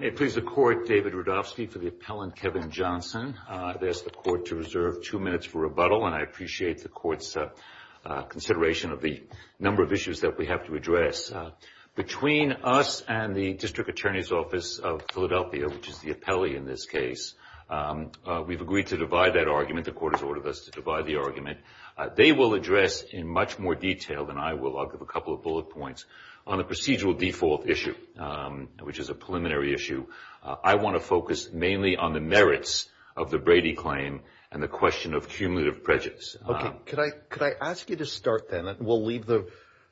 David Rudofsky for the appellant Kevin Johnson. I've asked the court to reserve two minutes for rebuttal, and I appreciate the court's consideration of the number of issues that we have to address. Between us and the District Attorney's Office of Philadelphia, which is the appellee in this case, we've agreed to divide that argument. The court has ordered us to divide the argument. They will address in much more detail than I will. I'll give a couple of bullet points on the procedural default issue, which is a preliminary issue. I want to focus mainly on the merits of the Brady claim and the question of cumulative prejudice. Okay. Could I ask you to start then? We'll leave the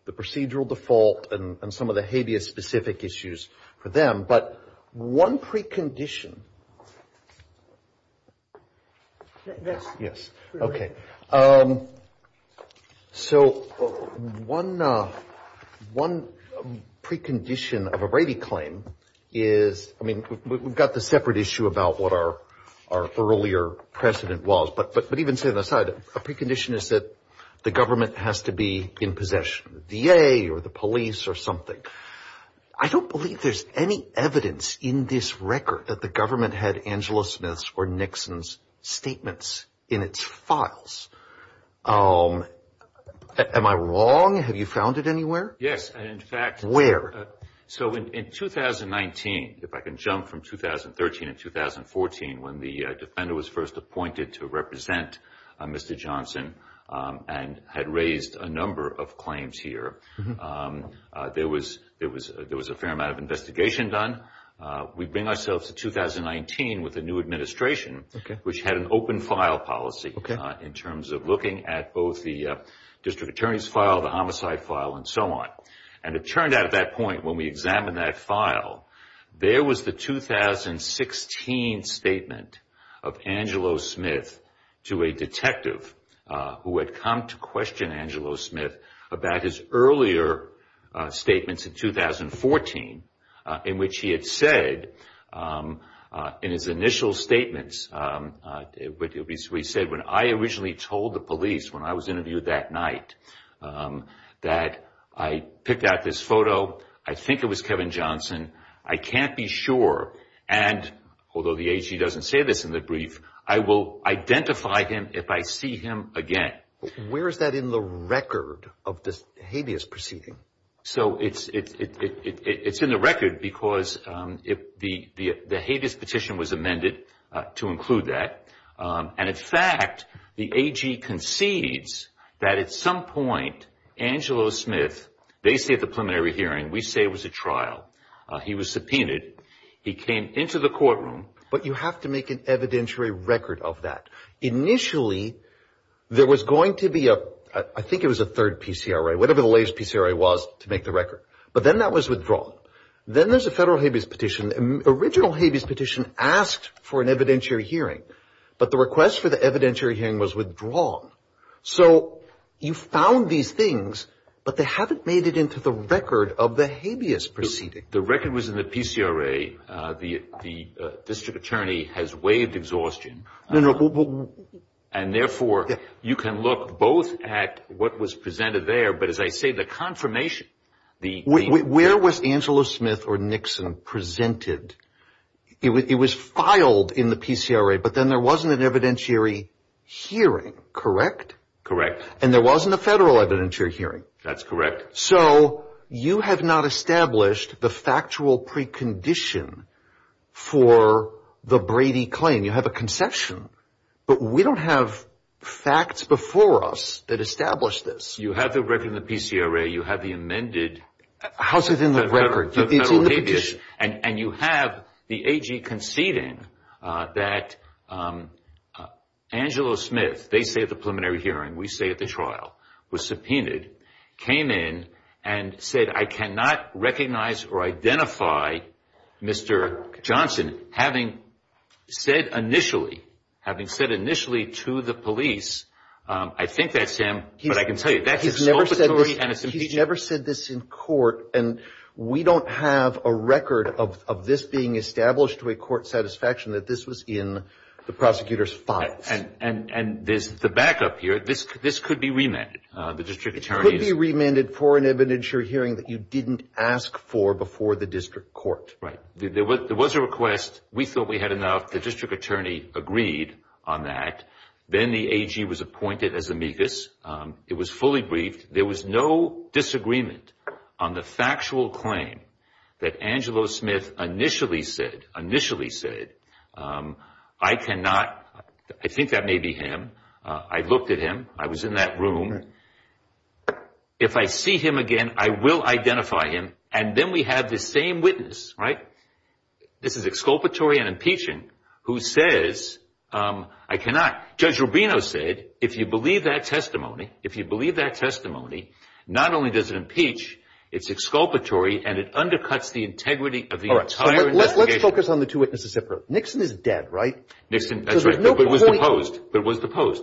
procedural default and some of the habeas-specific issues for them, but one precondition. Yes. Okay. So one precondition of a Brady claim is, I mean, we've got the separate issue about what our earlier precedent was, but even setting that aside, a precondition is that the government has to be in possession, the VA or the police or something. I don't believe there's any evidence in this record that the government had Angela Smith's or Nixon's statements in its files. Am I wrong? Have you found it anywhere? Yes. And in fact, so in 2019, if I can jump from 2013 and 2014, when the defender was first appointed to represent Mr. Johnson and had raised a number of claims here, there was a fair amount of investigation done. We bring ourselves to 2019 with the new administration, which had an open file policy in terms of looking at both the district attorney's file, the homicide file, and so on. And it turned out at that point, when we examined that file, there was the 2016 statement of Angela Smith to a detective who had come to question Angela Smith about his earlier statements in 2014, in which he had said in his initial statements, we said, when I originally told the police when I was interviewed that night that I picked out this photo, I think it was Kevin Johnson, I can't be sure, and although the AG doesn't say this in the brief, I will identify him if I see him again. Where is that in the record of this hideous proceeding? So it's in the record because the hideous petition was amended to include that. And in fact, the AG concedes that at some point, Angela Smith, they say at the preliminary hearing, we say it was a trial. He was subpoenaed. He came into the courtroom. But you have to make an evidentiary record of that. Initially, there was going to be a, I think it was a third PCRA, whatever the latest PCRA was to make the record. But then that was withdrawn. Then there's a federal habeas petition. Original habeas petition asked for an evidentiary hearing. But the request for the evidentiary hearing was withdrawn. So you found these things, but they haven't made it into the record of the habeas proceeding. The record was in the PCRA. The district attorney has waived exhaustion. And therefore, you can look both at what was presented there, but as I say, the confirmation. Where was Angela Smith or Nixon presented? It was filed in the PCRA, but then there wasn't an evidentiary hearing, correct? Correct. And there wasn't a federal evidentiary hearing? That's correct. So you have not established the factual precondition for the Brady claim. You have a conception, but we don't have facts before us that establish this. You have the record in the PCRA. You have the amended. How's it in the record? The federal habeas. And you have the AG conceding that Angela Smith, they say at the preliminary hearing, we say at the trial, was subpoenaed, came in and said, I cannot recognize or identify Mr. Johnson, having said initially, having said initially to the police, I think that's him, but I can tell you that's his solvency. He's never said this in court, and we don't have a record of this being established to a court satisfaction that this was in the prosecutor's files. And there's the backup here. This could be remanded. The district attorney's. You remanded for an evidentiary hearing that you didn't ask for before the district court. Right. There was a request. We thought we had enough. The district attorney agreed on that. Then the AG was appointed as amicus. It was fully briefed. There was no disagreement on the factual claim that Angelo Smith initially said, initially said, I cannot. I think that may be him. I looked at him. I was in that room. If I see him again, I will identify him. And then we have the same witness. Right. This is exculpatory and impeaching, who says, I cannot. Judge Rubino said, if you believe that testimony, if you believe that testimony, not only does it impeach, it's exculpatory, and it undercuts the integrity of the entire investigation. Let's focus on the two witnesses separate. Nixon is dead, right? Nixon, that's right, but was deposed.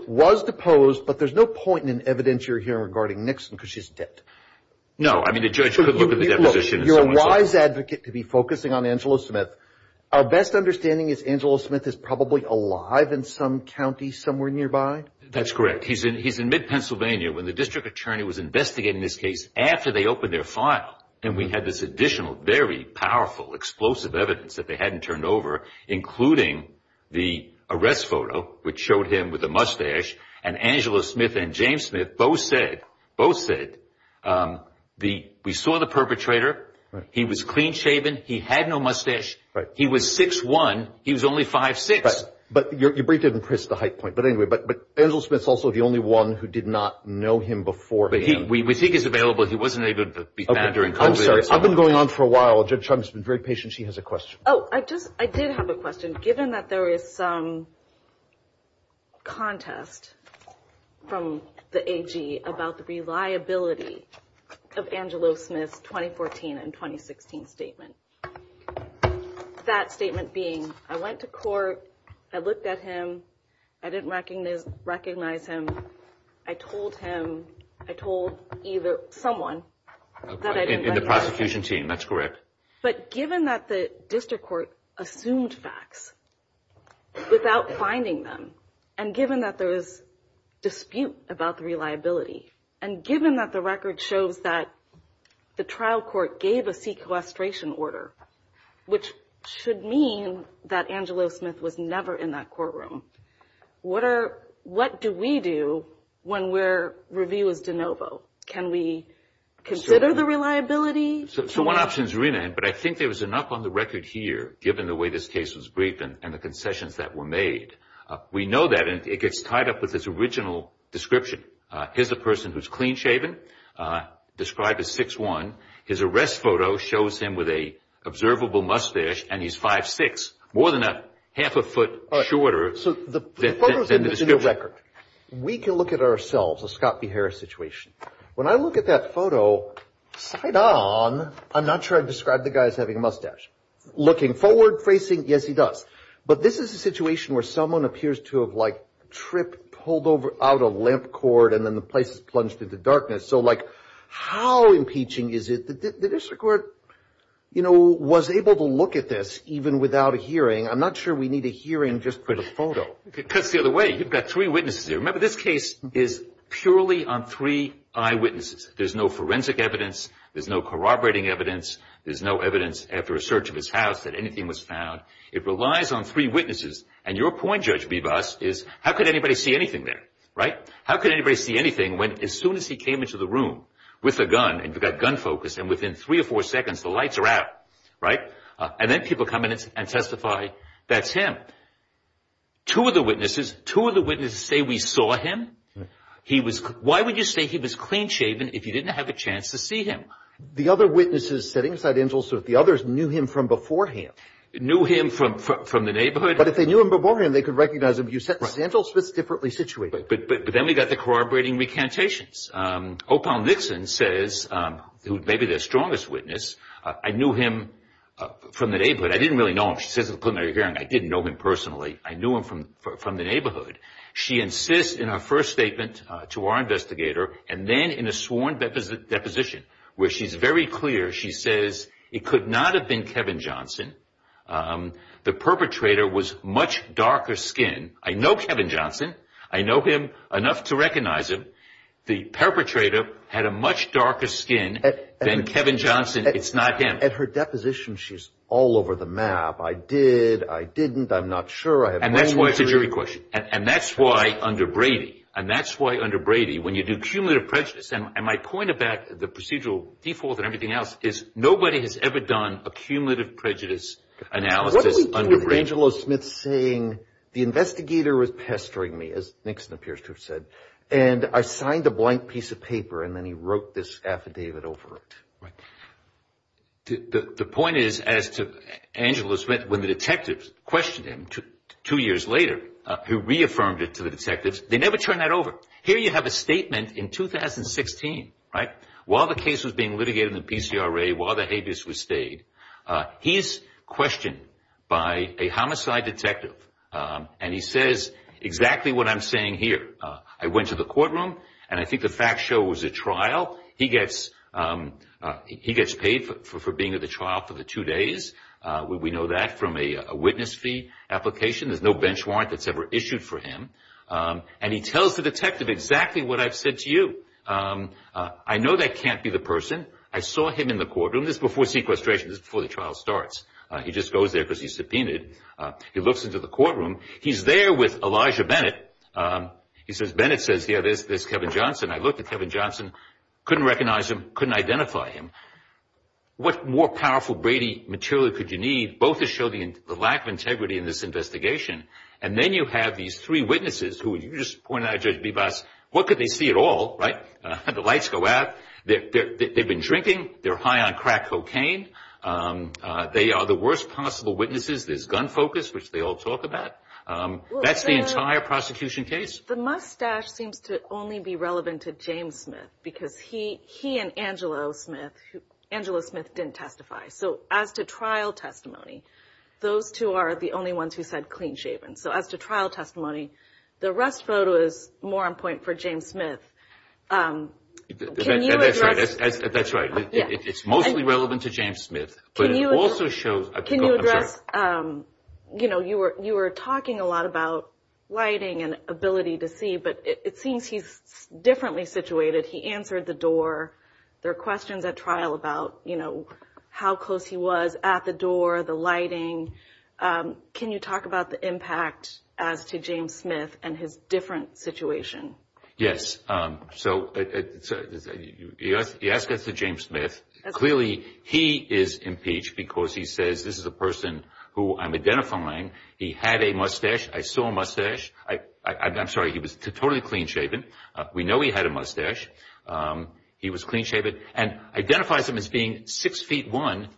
Was deposed, but there's no point in an evidentiary hearing regarding Nixon because she's dead. No, I mean, the judge could look at the deposition. You're a wise advocate to be focusing on Angelo Smith. Our best understanding is Angelo Smith is probably alive in some county somewhere nearby. That's correct. He's in he's in mid-Pennsylvania when the district attorney was investigating this case after they opened their file. And we had this additional, very powerful, explosive evidence that they hadn't turned over, including the arrest photo, which showed him with a mustache. And Angelo Smith and James Smith both said, both said the we saw the perpetrator. He was clean shaven. He had no mustache. He was 6'1". He was only 5'6". But your brief didn't press the high point. But anyway, but but Angelo Smith's also the only one who did not know him before. We think he's available. He wasn't able to be found during COVID. I've been going on for a while. Judge Chum has been very patient. She has a question. Oh, I just I did have a question, given that there is some contest from the AG about the reliability of Angelo Smith's 2014 and 2016 statement. That statement being I went to court. I looked at him. I didn't recognize recognize him. I told him I told either someone in the prosecution team. That's correct. But given that the district court assumed facts without finding them and given that there is dispute about the reliability and given that the record shows that the trial court gave a sequestration order, which should mean that Angelo Smith was never in that courtroom. What are what do we do when we're review is de novo? Can we consider the reliability? So one option is renamed. But I think there was enough on the record here, given the way this case was briefed and the concessions that were made. We know that it gets tied up with this original description. Here's a person who's clean shaven, described as 6'1". His arrest photo shows him with a observable mustache and he's 5'6", more than a half a foot shorter. So the record we can look at ourselves, a Scott B. Harris situation. When I look at that photo side on, I'm not sure I'd describe the guys having a mustache looking forward facing. Yes, he does. But this is a situation where someone appears to have, like, tripped, pulled over out a limp cord and then the place is plunged into darkness. So, like, how impeaching is it that the district court, you know, was able to look at this even without a hearing? I'm not sure we need a hearing just for the photo. Because the other way, you've got three witnesses here. Remember, this case is purely on three eyewitnesses. There's no forensic evidence. There's no corroborating evidence. There's no evidence after a search of his house that anything was found. It relies on three witnesses. And your point, Judge Bebas, is how could anybody see anything there? Right. How could anybody see anything when as soon as he came into the room with a gun and you've got gun focus and within three or four seconds, the lights are out. Right. And then people come in and testify, that's him. Two of the witnesses, two of the witnesses say we saw him. He was. Why would you say he was clean shaven if you didn't have a chance to see him? The other witnesses said Ingelsmith, the others knew him from beforehand. Knew him from the neighborhood. But if they knew him beforehand, they could recognize him. You said Ingelsmith's differently situated. But then we got the corroborating recantations. Opal Nixon says, who may be their strongest witness, I knew him from the neighborhood. I didn't really know him. She says, I didn't know him personally. I knew him from from the neighborhood. She insists in her first statement to our investigator and then in a sworn deposition where she's very clear. She says it could not have been Kevin Johnson. The perpetrator was much darker skin. I know Kevin Johnson. I know him enough to recognize him. The perpetrator had a much darker skin than Kevin Johnson. It's not him. At her deposition, she's all over the map. I did. I didn't. I'm not sure. And that's why it's a jury question. And that's why under Brady and that's why under Brady, when you do cumulative prejudice. And my point about the procedural default and everything else is nobody has ever done a cumulative prejudice analysis. Angelo Smith saying the investigator was pestering me, as Nixon appears to have said, and I signed a blank piece of paper. And then he wrote this affidavit over it. The point is, as to Angelo Smith, when the detectives questioned him two years later, he reaffirmed it to the detectives. They never turned that over. Here you have a statement in 2016. Right. While the case was being litigated in the PCRA, while the habeas was stayed. He's questioned by a homicide detective, and he says exactly what I'm saying here. I went to the courtroom, and I think the facts show it was a trial. He gets paid for being at the trial for the two days. We know that from a witness fee application. There's no bench warrant that's ever issued for him. And he tells the detective exactly what I've said to you. I know that can't be the person. I saw him in the courtroom. This is before sequestration. This is before the trial starts. He just goes there because he's subpoenaed. He looks into the courtroom. He's there with Elijah Bennett. He says, Bennett says, yeah, there's Kevin Johnson. I looked at Kevin Johnson. Couldn't recognize him. Couldn't identify him. What more powerful Brady material could you need? Both to show the lack of integrity in this investigation. And then you have these three witnesses who you just pointed out, Judge Bebas, what could they see at all? Right. The lights go out. They've been drinking. They're high on crack cocaine. They are the worst possible witnesses. There's gun focus, which they all talk about. That's the entire prosecution case. The mustache seems to only be relevant to James Smith because he and Angela Smith didn't testify. So as to trial testimony, those two are the only ones who said clean shaven. So as to trial testimony, the rest photo is more on point for James Smith. That's right. It's mostly relevant to James Smith, but it also shows. Can you address, you know, you were talking a lot about lighting and ability to see, but it seems he's differently situated. He answered the door. There are questions at trial about, you know, how close he was at the door, the lighting. Can you talk about the impact as to James Smith and his different situation? Yes. So you ask this to James Smith. Clearly he is impeached because he says this is a person who I'm identifying. He had a mustache. I saw a mustache. I'm sorry. He was totally clean shaven. We know he had a mustache. He was clean shaven and identifies him as being six feet one.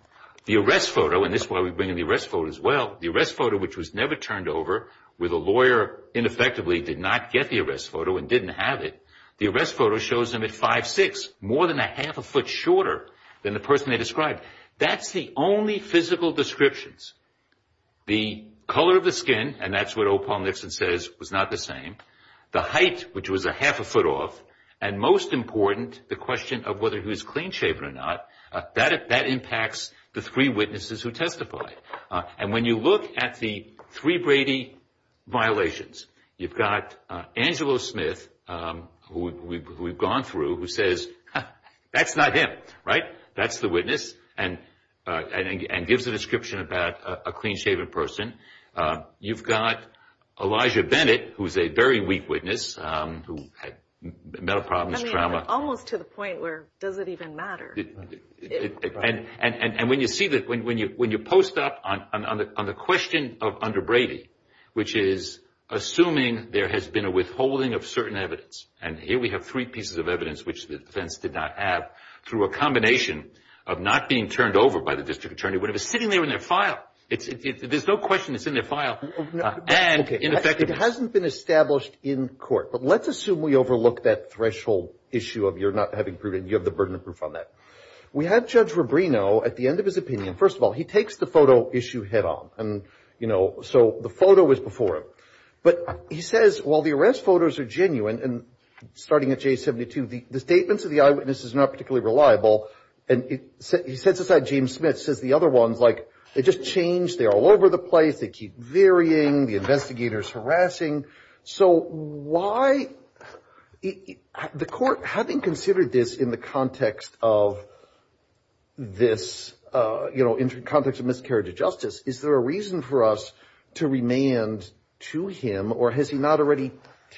The arrest photo, and this is why we bring in the arrest photo as well, the arrest photo, which was never turned over, where the lawyer ineffectively did not get the arrest photo and didn't have it, the arrest photo shows him at 5'6", more than a half a foot shorter than the person they described. That's the only physical descriptions. The color of the skin, and that's what Opal Nixon says, was not the same. The height, which was a half a foot off, and most important, the question of whether he was clean shaven or not, that impacts the three witnesses who testified. And when you look at the three Brady violations, you've got Angelo Smith, who we've gone through, who says, that's not him, right? That's the witness, and gives a description about a clean shaven person. You've got Elijah Bennett, who's a very weak witness, who had mental problems, trauma. I mean, almost to the point where does it even matter? And when you see that, when you post up on the question under Brady, which is assuming there has been a withholding of certain evidence, and here we have three pieces of evidence which the defense did not have, through a combination of not being turned over by the district attorney, whatever, sitting there in their file. There's no question it's in their file. Okay, it hasn't been established in court, but let's assume we overlook that threshold issue of you're not having proof, and you have the burden of proof on that. We have Judge Rubino at the end of his opinion. First of all, he takes the photo issue head on, and, you know, so the photo is before him. But he says, well, the arrest photos are genuine, and starting at J72, the statements of the eyewitnesses are not particularly reliable, and he sets aside James Smith, says the other ones, like, they just change, they're all over the place, they keep varying, the investigator's harassing. So why the court, having considered this in the context of this, you know, in the context of miscarriage of justice, is there a reason for us to remand to him, or has he not already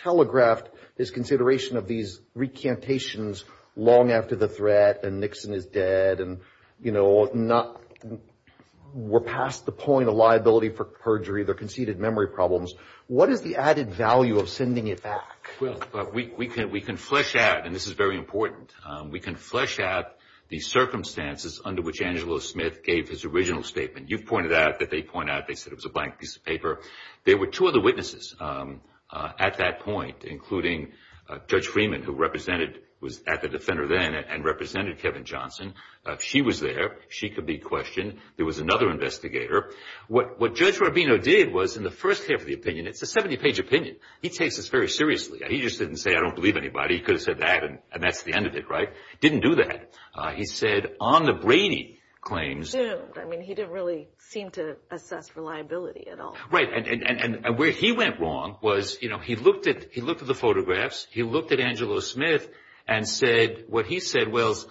telegraphed his consideration of these recantations long after the threat, and Nixon is dead, and, you know, not we're past the point of liability for perjury, they're conceded memory problems. What is the added value of sending it back? Well, we can flesh out, and this is very important, we can flesh out the circumstances under which Angelo Smith gave his original statement. You've pointed out that they point out they said it was a blank piece of paper. There were two other witnesses at that point, including Judge Freeman, who represented, was at the Defender then, and represented Kevin Johnson. She was there. She could be questioned. There was another investigator. What Judge Rubino did was, in the first half of the opinion, it's a 70-page opinion. He takes this very seriously. He just didn't say, I don't believe anybody. He could have said that, and that's the end of it, right? Didn't do that. He said, on the Brady claims. I mean, he didn't really seem to assess reliability at all. Right, and where he went wrong was, you know, he looked at the photographs. He looked at Angelo Smith and said what he said was,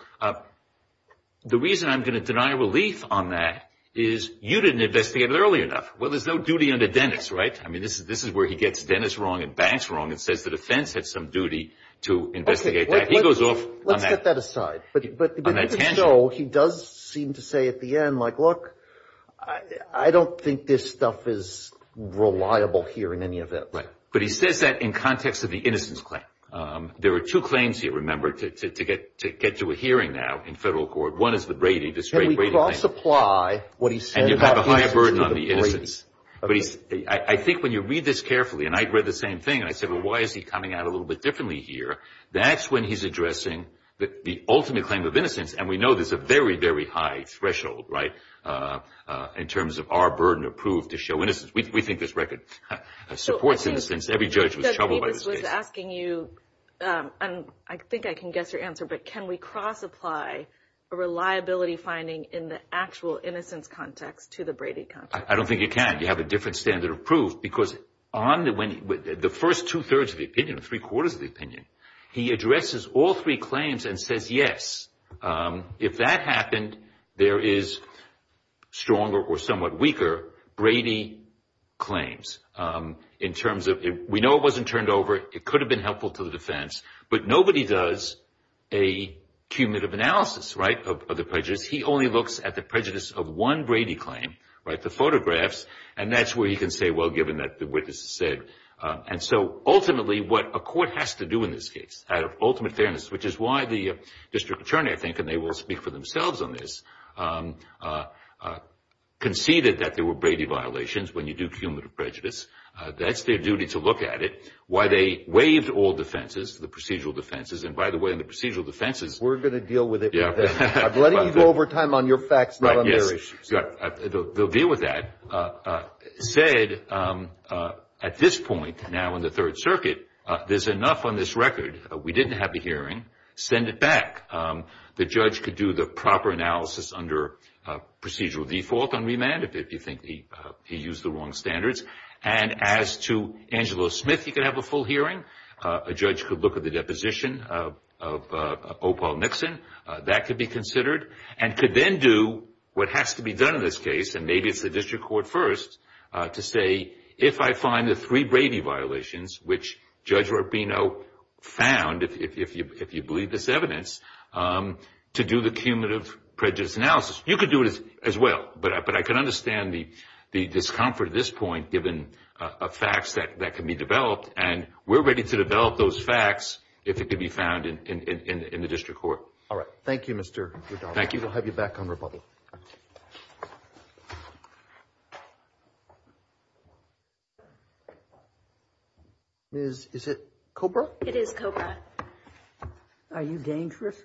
the reason I'm going to deny relief on that is you didn't investigate it early enough. Well, there's no duty under Dennis, right? I mean, this is where he gets Dennis wrong and Banks wrong and says the defense had some duty to investigate that. He goes off on that. Let's set that aside. But you can show he does seem to say at the end, like, look, I don't think this stuff is reliable here in any event. Right, but he says that in context of the innocence claim. There are two claims here, remember, to get to a hearing now in federal court. One is the Brady, this great Brady claim. Can we cross-apply what he said about the innocence to the Brady? And you have a higher burden on the innocence. But I think when you read this carefully, and I read the same thing, and I said, well, why is he coming out a little bit differently here? That's when he's addressing the ultimate claim of innocence, and we know there's a very, very high threshold, right, in terms of our burden approved to show innocence. We think this record supports innocence. Every judge was troubled by this case. I think I can guess your answer, but can we cross-apply a reliability finding in the actual innocence context to the Brady context? I don't think you can. You have a different standard of proof. Because the first two-thirds of the opinion, three-quarters of the opinion, he addresses all three claims and says, yes, if that happened, there is stronger or somewhat weaker Brady claims. We know it wasn't turned over. It could have been helpful to the defense. But nobody does a cumulative analysis, right, of the prejudice. He only looks at the prejudice of one Brady claim, right, the photographs, and that's where he can say, well, given that the witness said. And so ultimately what a court has to do in this case, out of ultimate fairness, which is why the district attorney, I think, and they will speak for themselves on this, conceded that there were Brady violations when you do cumulative prejudice. That's their duty to look at it. Why they waived all defenses, the procedural defenses. And, by the way, in the procedural defenses. We're going to deal with it. I'm letting you go over time on your facts, not on their issues. They'll deal with that. Said at this point now in the Third Circuit, there's enough on this record. We didn't have the hearing. Send it back. The judge could do the proper analysis under procedural default on remand if you think he used the wrong standards. And as to Angelo Smith, he could have a full hearing. A judge could look at the deposition of Opal Nixon. That could be considered. And could then do what has to be done in this case, and maybe it's the district court first, to say, if I find the three Brady violations, which Judge Rubino found, if you believe this evidence, to do the cumulative prejudice analysis. You could do it as well. But I can understand the discomfort at this point, given facts that can be developed. And we're ready to develop those facts if it can be found in the district court. All right. Thank you, Mr. Redaldo. Thank you. We'll have you back on rebuttal. Thank you. Is it Cobra? It is Cobra. Are you dangerous?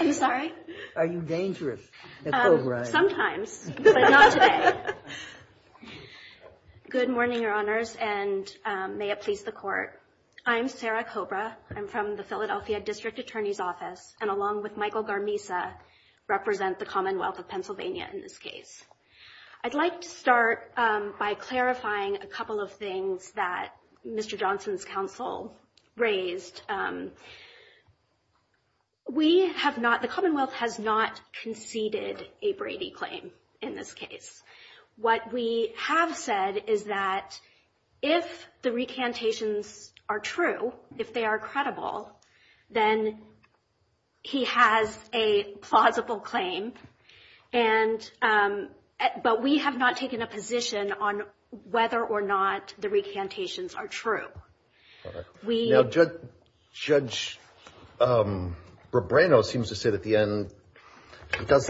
I'm sorry? Are you dangerous at Cobra? Sometimes, but not today. Good morning, Your Honors, and may it please the court. I'm Sarah Cobra. I'm from the Philadelphia District Attorney's Office, and along with Michael Garmisa, represent the Commonwealth of Pennsylvania in this case. I'd like to start by clarifying a couple of things that Mr. Johnson's counsel raised. We have not, the Commonwealth has not conceded a Brady claim in this case. What we have said is that if the recantations are true, if they are credible, then he has a plausible claim. But we have not taken a position on whether or not the recantations are true. All right. Now, Judge Rebrano seems to say at the end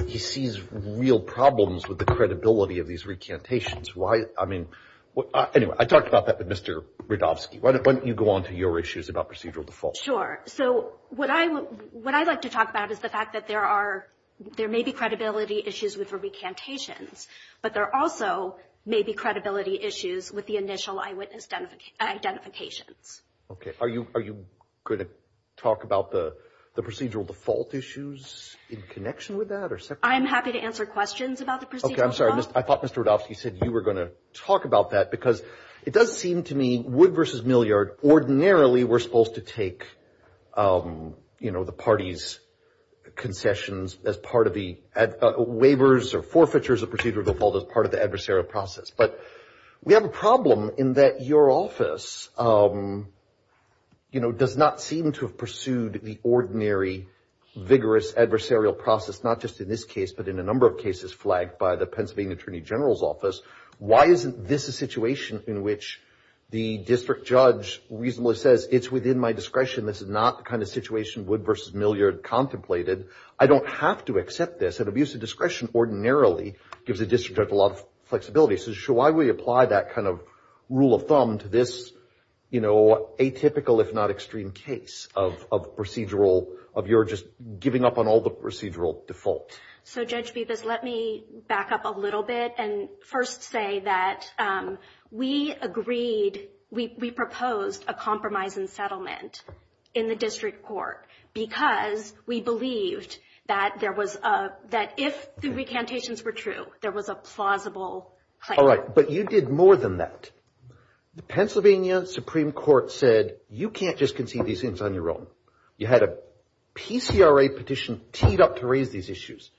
he sees real problems with the credibility of these recantations. Why, I mean, anyway, I talked about that with Mr. Radofsky. Why don't you go on to your issues about procedural default? Sure. So what I'd like to talk about is the fact that there are, there may be credibility issues with the recantations, but there also may be credibility issues with the initial eyewitness identifications. Okay. Are you going to talk about the procedural default issues in connection with that? I'm happy to answer questions about the procedural default. Okay. I'm sorry. I thought Mr. Radofsky said you were going to talk about that because it does seem to me Wood v. ordinarily we're supposed to take, you know, the party's concessions as part of the waivers or forfeitures of procedural default as part of the adversarial process. But we have a problem in that your office, you know, does not seem to have pursued the ordinary vigorous adversarial process, not just in this case but in a number of cases flagged by the Pennsylvania Attorney General's office. Why isn't this a situation in which the district judge reasonably says it's within my discretion, this is not the kind of situation Wood v. Milliard contemplated? I don't have to accept this. An abuse of discretion ordinarily gives a district judge a lot of flexibility. So why would he apply that kind of rule of thumb to this, you know, atypical if not extreme case of procedural, of your just giving up on all the procedural default? So, Judge Bevis, let me back up a little bit and first say that we agreed, we proposed a compromise and settlement in the district court because we believed that there was a, that if the recantations were true, there was a plausible claim. All right. But you did more than that. The Pennsylvania Supreme Court said you can't just concede these things on your own. You had a PCRA petition teed up to raise these issues.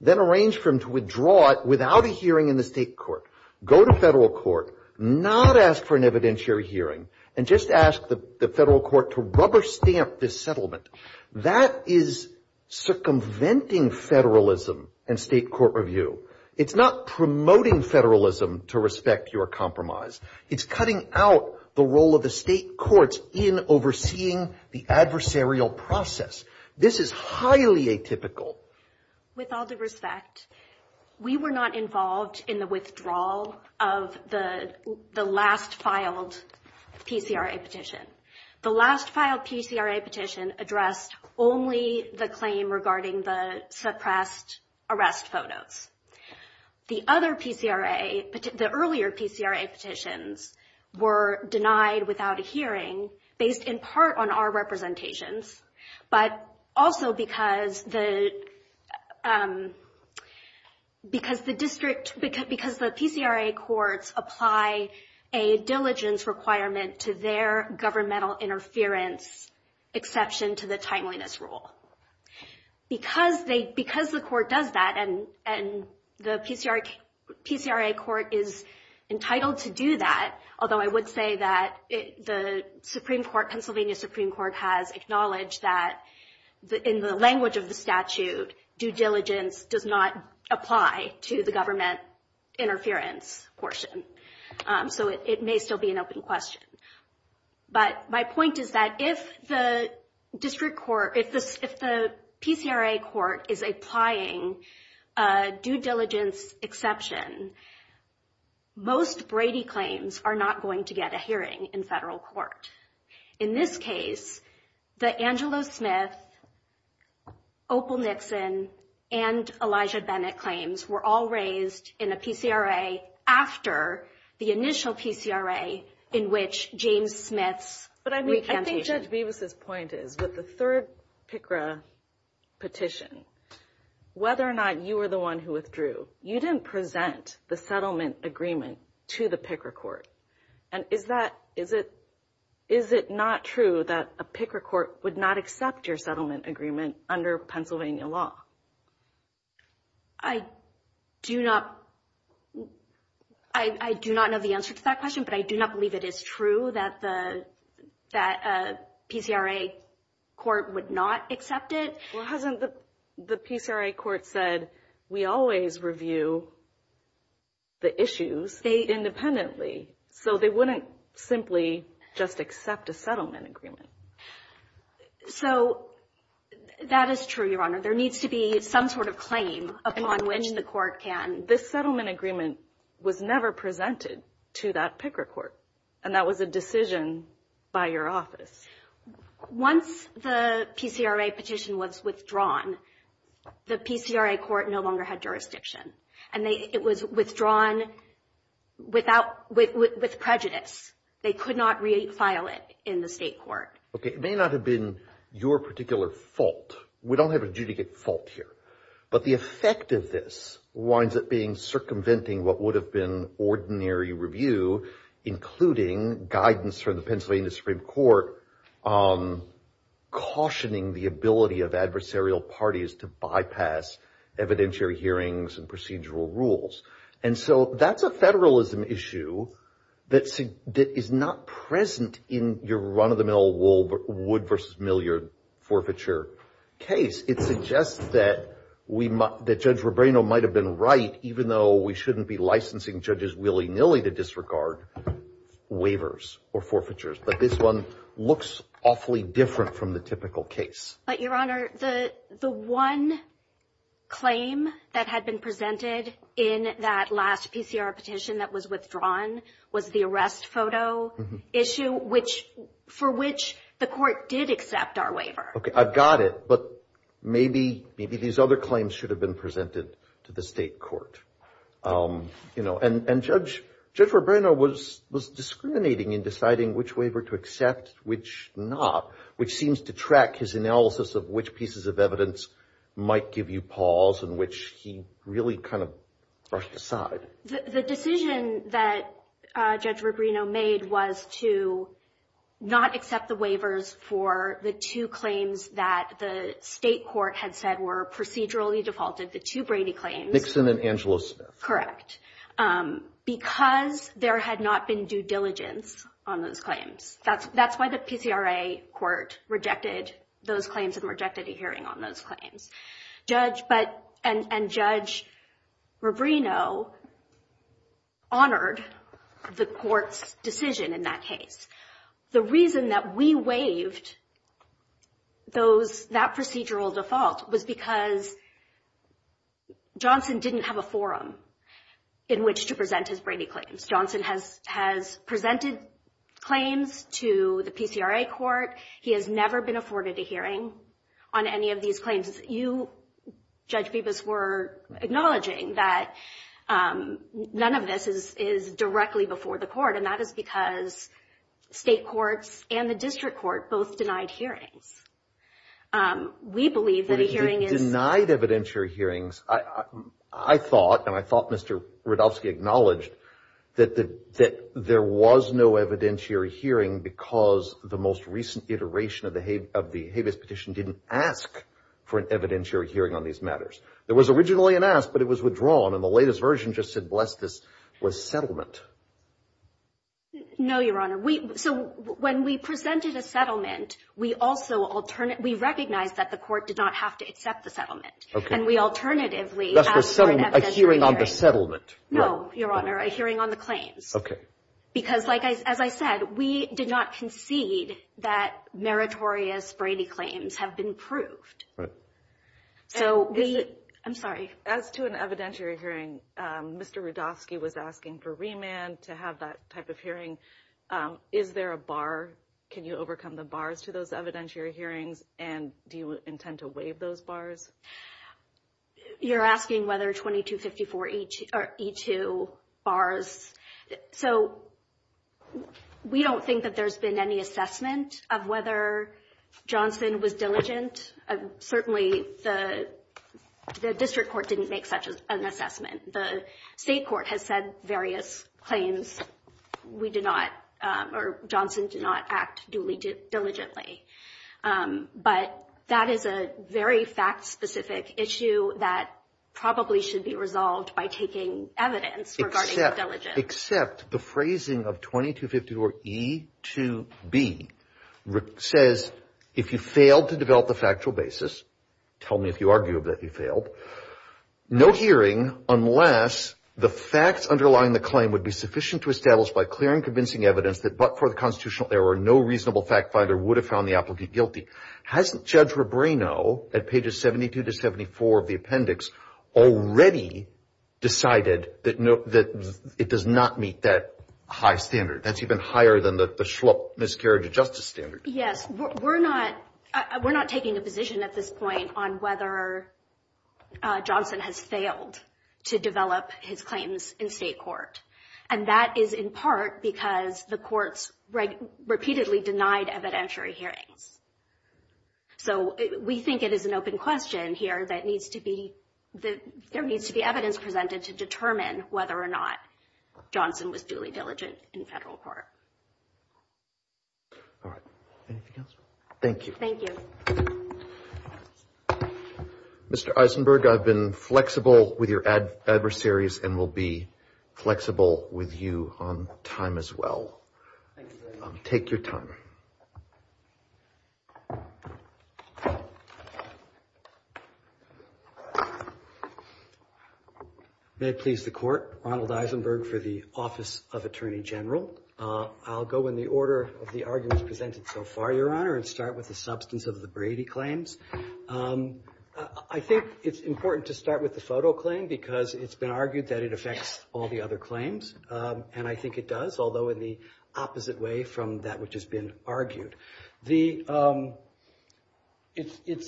Then arranged for him to withdraw it without a hearing in the state court. Go to federal court, not ask for an evidentiary hearing, and just ask the federal court to rubber stamp this settlement. That is circumventing federalism and state court review. It's not promoting federalism to respect your compromise. It's cutting out the role of the state courts in overseeing the adversarial process. This is highly atypical. With all due respect, we were not involved in the withdrawal of the last filed PCRA petition. The last filed PCRA petition addressed only the claim regarding the suppressed arrest photos. The other PCRA, the earlier PCRA petitions were denied without a hearing based in part on our representations, but also because the district, because the PCRA courts apply a diligence requirement to their governmental interference exception to the timeliness rule. Because the court does that and the PCRA court is entitled to do that, although I would say that the Pennsylvania Supreme Court has acknowledged that in the language of the statute, due diligence does not apply to the government interference portion. It may still be an open question. But my point is that if the district court, if the PCRA court is applying due diligence exception, most Brady claims are not going to get a hearing in federal court. In this case, the Angelo Smith, Opal Nixon, and Elijah Bennett claims were all raised in a PCRA after the initial PCRA in which James Smith's recantation. But I think Judge Bevis' point is with the third PCRA petition, whether or not you were the one who withdrew, you didn't present the settlement agreement to the PCRA court. And is that, is it, is it not true that a PCRA court would not accept your settlement agreement under Pennsylvania law? I do not, I do not know the answer to that question, but I do not believe it is true that the, that a PCRA court would not accept it. Well, hasn't the PCRA court said, we always review the issues independently. So they wouldn't simply just accept a settlement agreement. So that is true, Your Honor. There needs to be some sort of claim upon which the court can. This settlement agreement was never presented to that PCRA court. And that was a decision by your office. Once the PCRA petition was withdrawn, the PCRA court no longer had jurisdiction. And it was withdrawn without, with prejudice. They could not refile it in the state court. Okay, it may not have been your particular fault. We don't have a judicate fault here. But the effect of this winds up being circumventing what would have been ordinary review, including guidance from the Pennsylvania Supreme Court cautioning the ability of adversarial parties to bypass evidentiary hearings and procedural rules. And so that's a federalism issue that is not present in your run-of-the-mill wood-versus-milliard forfeiture case. It suggests that Judge Rubrino might have been right, even though we shouldn't be licensing judges willy-nilly to disregard waivers or forfeitures. But this one looks awfully different from the typical case. But, Your Honor, the one claim that had been presented in that last PCRA petition that was withdrawn was the arrest photo issue, which for which the court did accept our waiver. Okay, I've got it. But maybe these other claims should have been presented to the state court. You know, and Judge Rubrino was discriminating in deciding which waiver to accept, which not, which seems to track his analysis of which pieces of evidence might give you pause and which he really kind of brushed aside. The decision that Judge Rubrino made was to not accept the waivers for the two claims that the state court had said were procedurally defaulted, the two Brady claims. Nixon and Angelo Smith. Correct. Because there had not been due diligence on those claims. That's why the PCRA court rejected those claims and rejected a hearing on those claims. And Judge Rubrino honored the court's decision in that case. The reason that we waived that procedural default was because Johnson didn't have a forum in which to present his Brady claims. Johnson has presented claims to the PCRA court. He has never been afforded a hearing on any of these claims. And you, Judge Bibas, were acknowledging that none of this is directly before the court, and that is because state courts and the district court both denied hearings. We believe that a hearing is. Denied evidentiary hearings. I thought, and I thought Mr. Rudofsky acknowledged, that there was no evidentiary hearing because the most recent iteration of the There was originally an ask, but it was withdrawn, and the latest version just said, bless this, was settlement. No, Your Honor. So when we presented a settlement, we also, we recognized that the court did not have to accept the settlement. And we alternatively asked for an evidentiary hearing. A hearing on the settlement. No, Your Honor, a hearing on the claims. Okay. Because, as I said, we did not concede that meritorious Brady claims have been proved. Right. So we, I'm sorry. As to an evidentiary hearing, Mr. Rudofsky was asking for remand to have that type of hearing. Is there a bar? Can you overcome the bars to those evidentiary hearings? And do you intend to waive those bars? You're asking whether 2254E2 bars. So we don't think that there's been any assessment of whether Johnson was diligent. Certainly, the district court didn't make such an assessment. The state court has said various claims. We did not, or Johnson did not act duly, diligently. But that is a very fact-specific issue that probably should be resolved by taking evidence regarding diligence. Except the phrasing of 2254E2B says, if you failed to develop a factual basis, tell me if you argue that you failed, no hearing unless the facts underlying the claim would be sufficient to establish by clear and convincing evidence that but for the constitutional error, no reasonable fact finder would have found the applicant guilty. Hasn't Judge Rebreno, at pages 72 to 74 of the appendix, already decided that it does not meet that high standard? That's even higher than the schlup miscarriage of justice standard. Yes. We're not taking a position at this point on whether Johnson has failed to develop his claims in state court. And that is in part because the courts repeatedly denied evidentiary hearings. So we think it is an open question here that there needs to be evidence presented to determine whether or not Johnson was duly diligent in federal court. All right. Anything else? Thank you. Thank you. Mr. Eisenberg, I've been flexible with your adversaries and will be flexible with you on time as well. Thank you very much. Take your time. May it please the Court. Ronald Eisenberg for the Office of Attorney General. I'll go in the order of the arguments presented so far, Your Honor, and start with the substance of the Brady claims. I think it's important to start with the photo claim because it's been argued that it affects all the other claims. And I think it does, although in the opposite way from that which has been argued. It's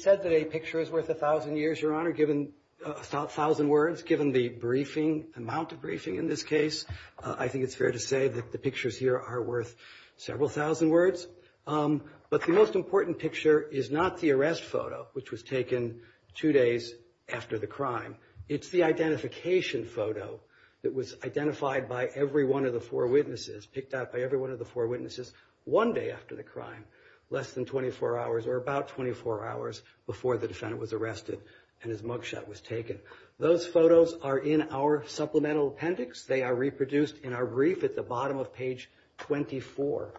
said that a picture is worth 1,000 years, Your Honor, given 1,000 words, given the briefing, amount of briefing in this case. I think it's fair to say that the pictures here are worth several thousand words. But the most important picture is not the arrest photo, which was taken two days after the crime. It's the identification photo that was identified by every one of the four witnesses, picked up by every one of the four witnesses, one day after the crime, less than 24 hours or about 24 hours before the defendant was arrested and his mugshot was taken. Those photos are in our supplemental appendix. They are reproduced in our brief at the bottom of page 24.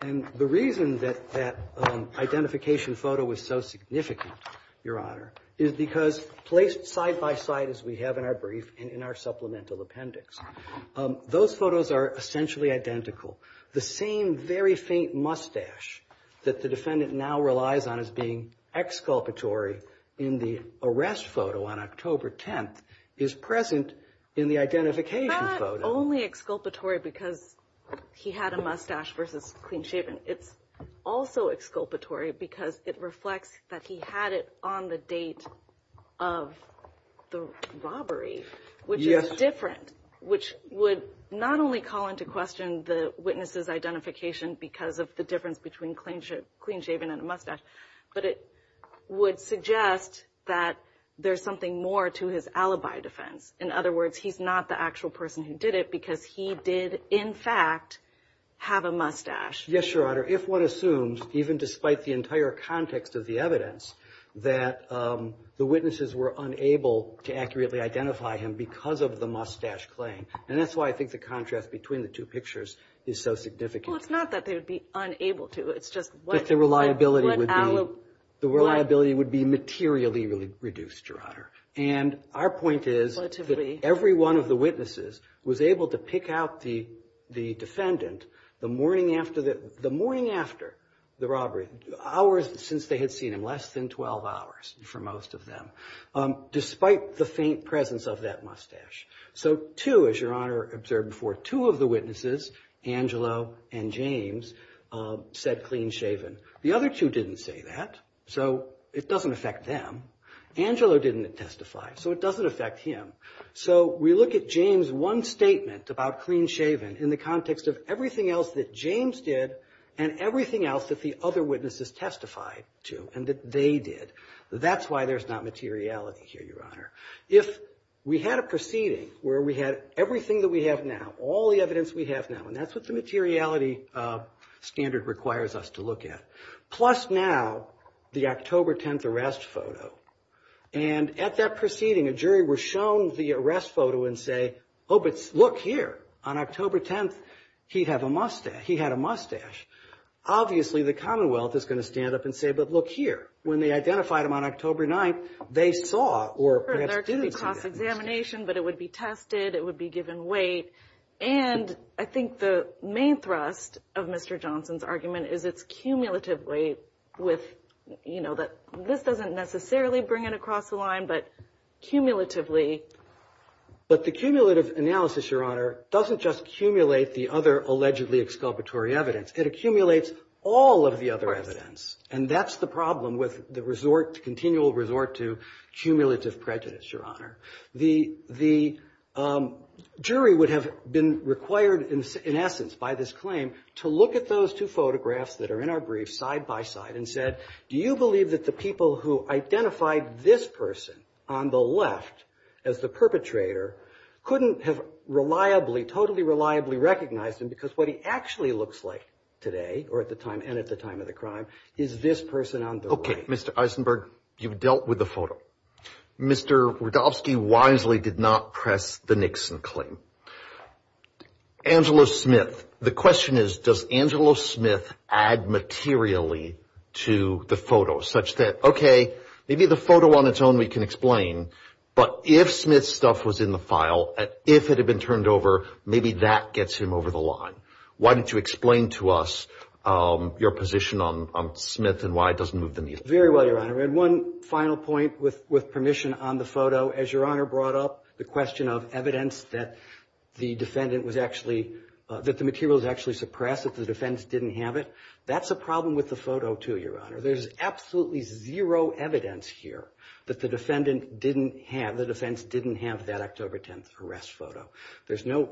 And the reason that that identification photo was so significant, Your Honor, is because placed side by side as we have in our brief and in our supplemental appendix, those photos are essentially identical. The same very faint mustache that the defendant now relies on as being exculpatory in the arrest photo on October 10th is present in the identification photo. It's not only exculpatory because he had a mustache versus clean shaven. It's also exculpatory because it reflects that he had it on the date of the robbery, which is different, which would not only call into question the witness's identification because of the difference between clean shaven and a mustache, but it would suggest that there's something more to his alibi defense. In other words, he's not the actual person who did it because he did, in fact, have a mustache. Yes, Your Honor, if one assumes, even despite the entire context of the evidence, that the witnesses were unable to accurately identify him because of the mustache claim, and that's why I think the contrast between the two pictures is so significant. Well, it's not that they would be unable to. It's just what alibi. The reliability would be materially reduced, Your Honor. And our point is that every one of the witnesses was able to pick out the defendant the morning after the robbery, hours since they had seen him, less than 12 hours for most of them, despite the faint presence of that mustache. So two, as Your Honor observed before, two of the witnesses, Angelo and James, said clean shaven. The other two didn't say that, so it doesn't affect them. Angelo didn't testify, so it doesn't affect him. So we look at James' one statement about clean shaven in the context of everything else that James did and everything else that the other witnesses testified to and that they did. That's why there's not materiality here, Your Honor. If we had a proceeding where we had everything that we have now, all the evidence we have now, and that's what the materiality standard requires us to look at, plus now the October 10th arrest photo. And at that proceeding, a jury was shown the arrest photo and say, oh, but look here. On October 10th, he had a mustache. Obviously the Commonwealth is going to stand up and say, but look here. When they identified him on October 9th, they saw or perhaps didn't see that. There could be cross-examination, but it would be tested, it would be given weight. And I think the main thrust of Mr. Johnson's argument is it's cumulatively with, you know, that this doesn't necessarily bring it across the line, but cumulatively. But the cumulative analysis, Your Honor, doesn't just cumulate the other allegedly exculpatory evidence. It accumulates all of the other evidence. And that's the problem with the continual resort to cumulative prejudice, Your Honor. The jury would have been required, in essence, by this claim, to look at those two photographs that are in our brief side by side and said, do you believe that the people who identified this person on the left as the perpetrator couldn't have reliably, totally reliably recognized him because what he actually looks like today or at the time and at the time of the crime is this person on the right. Okay, Mr. Eisenberg, you've dealt with the photo. Mr. Radofsky wisely did not press the Nixon claim. Angela Smith, the question is, does Angela Smith add materially to the photo such that, okay, maybe the photo on its own we can explain, but if Smith's stuff was in the file, if it had been turned over, maybe that gets him over the line. Why don't you explain to us your position on Smith and why it doesn't move the needle? Very well, Your Honor. And one final point with permission on the photo. As Your Honor brought up, the question of evidence that the defendant was actually, that the material was actually suppressed, that the defense didn't have it, that's a problem with the photo too, Your Honor. There's absolutely zero evidence here that the defendant didn't have, the defense didn't have that October 10th arrest photo. There's no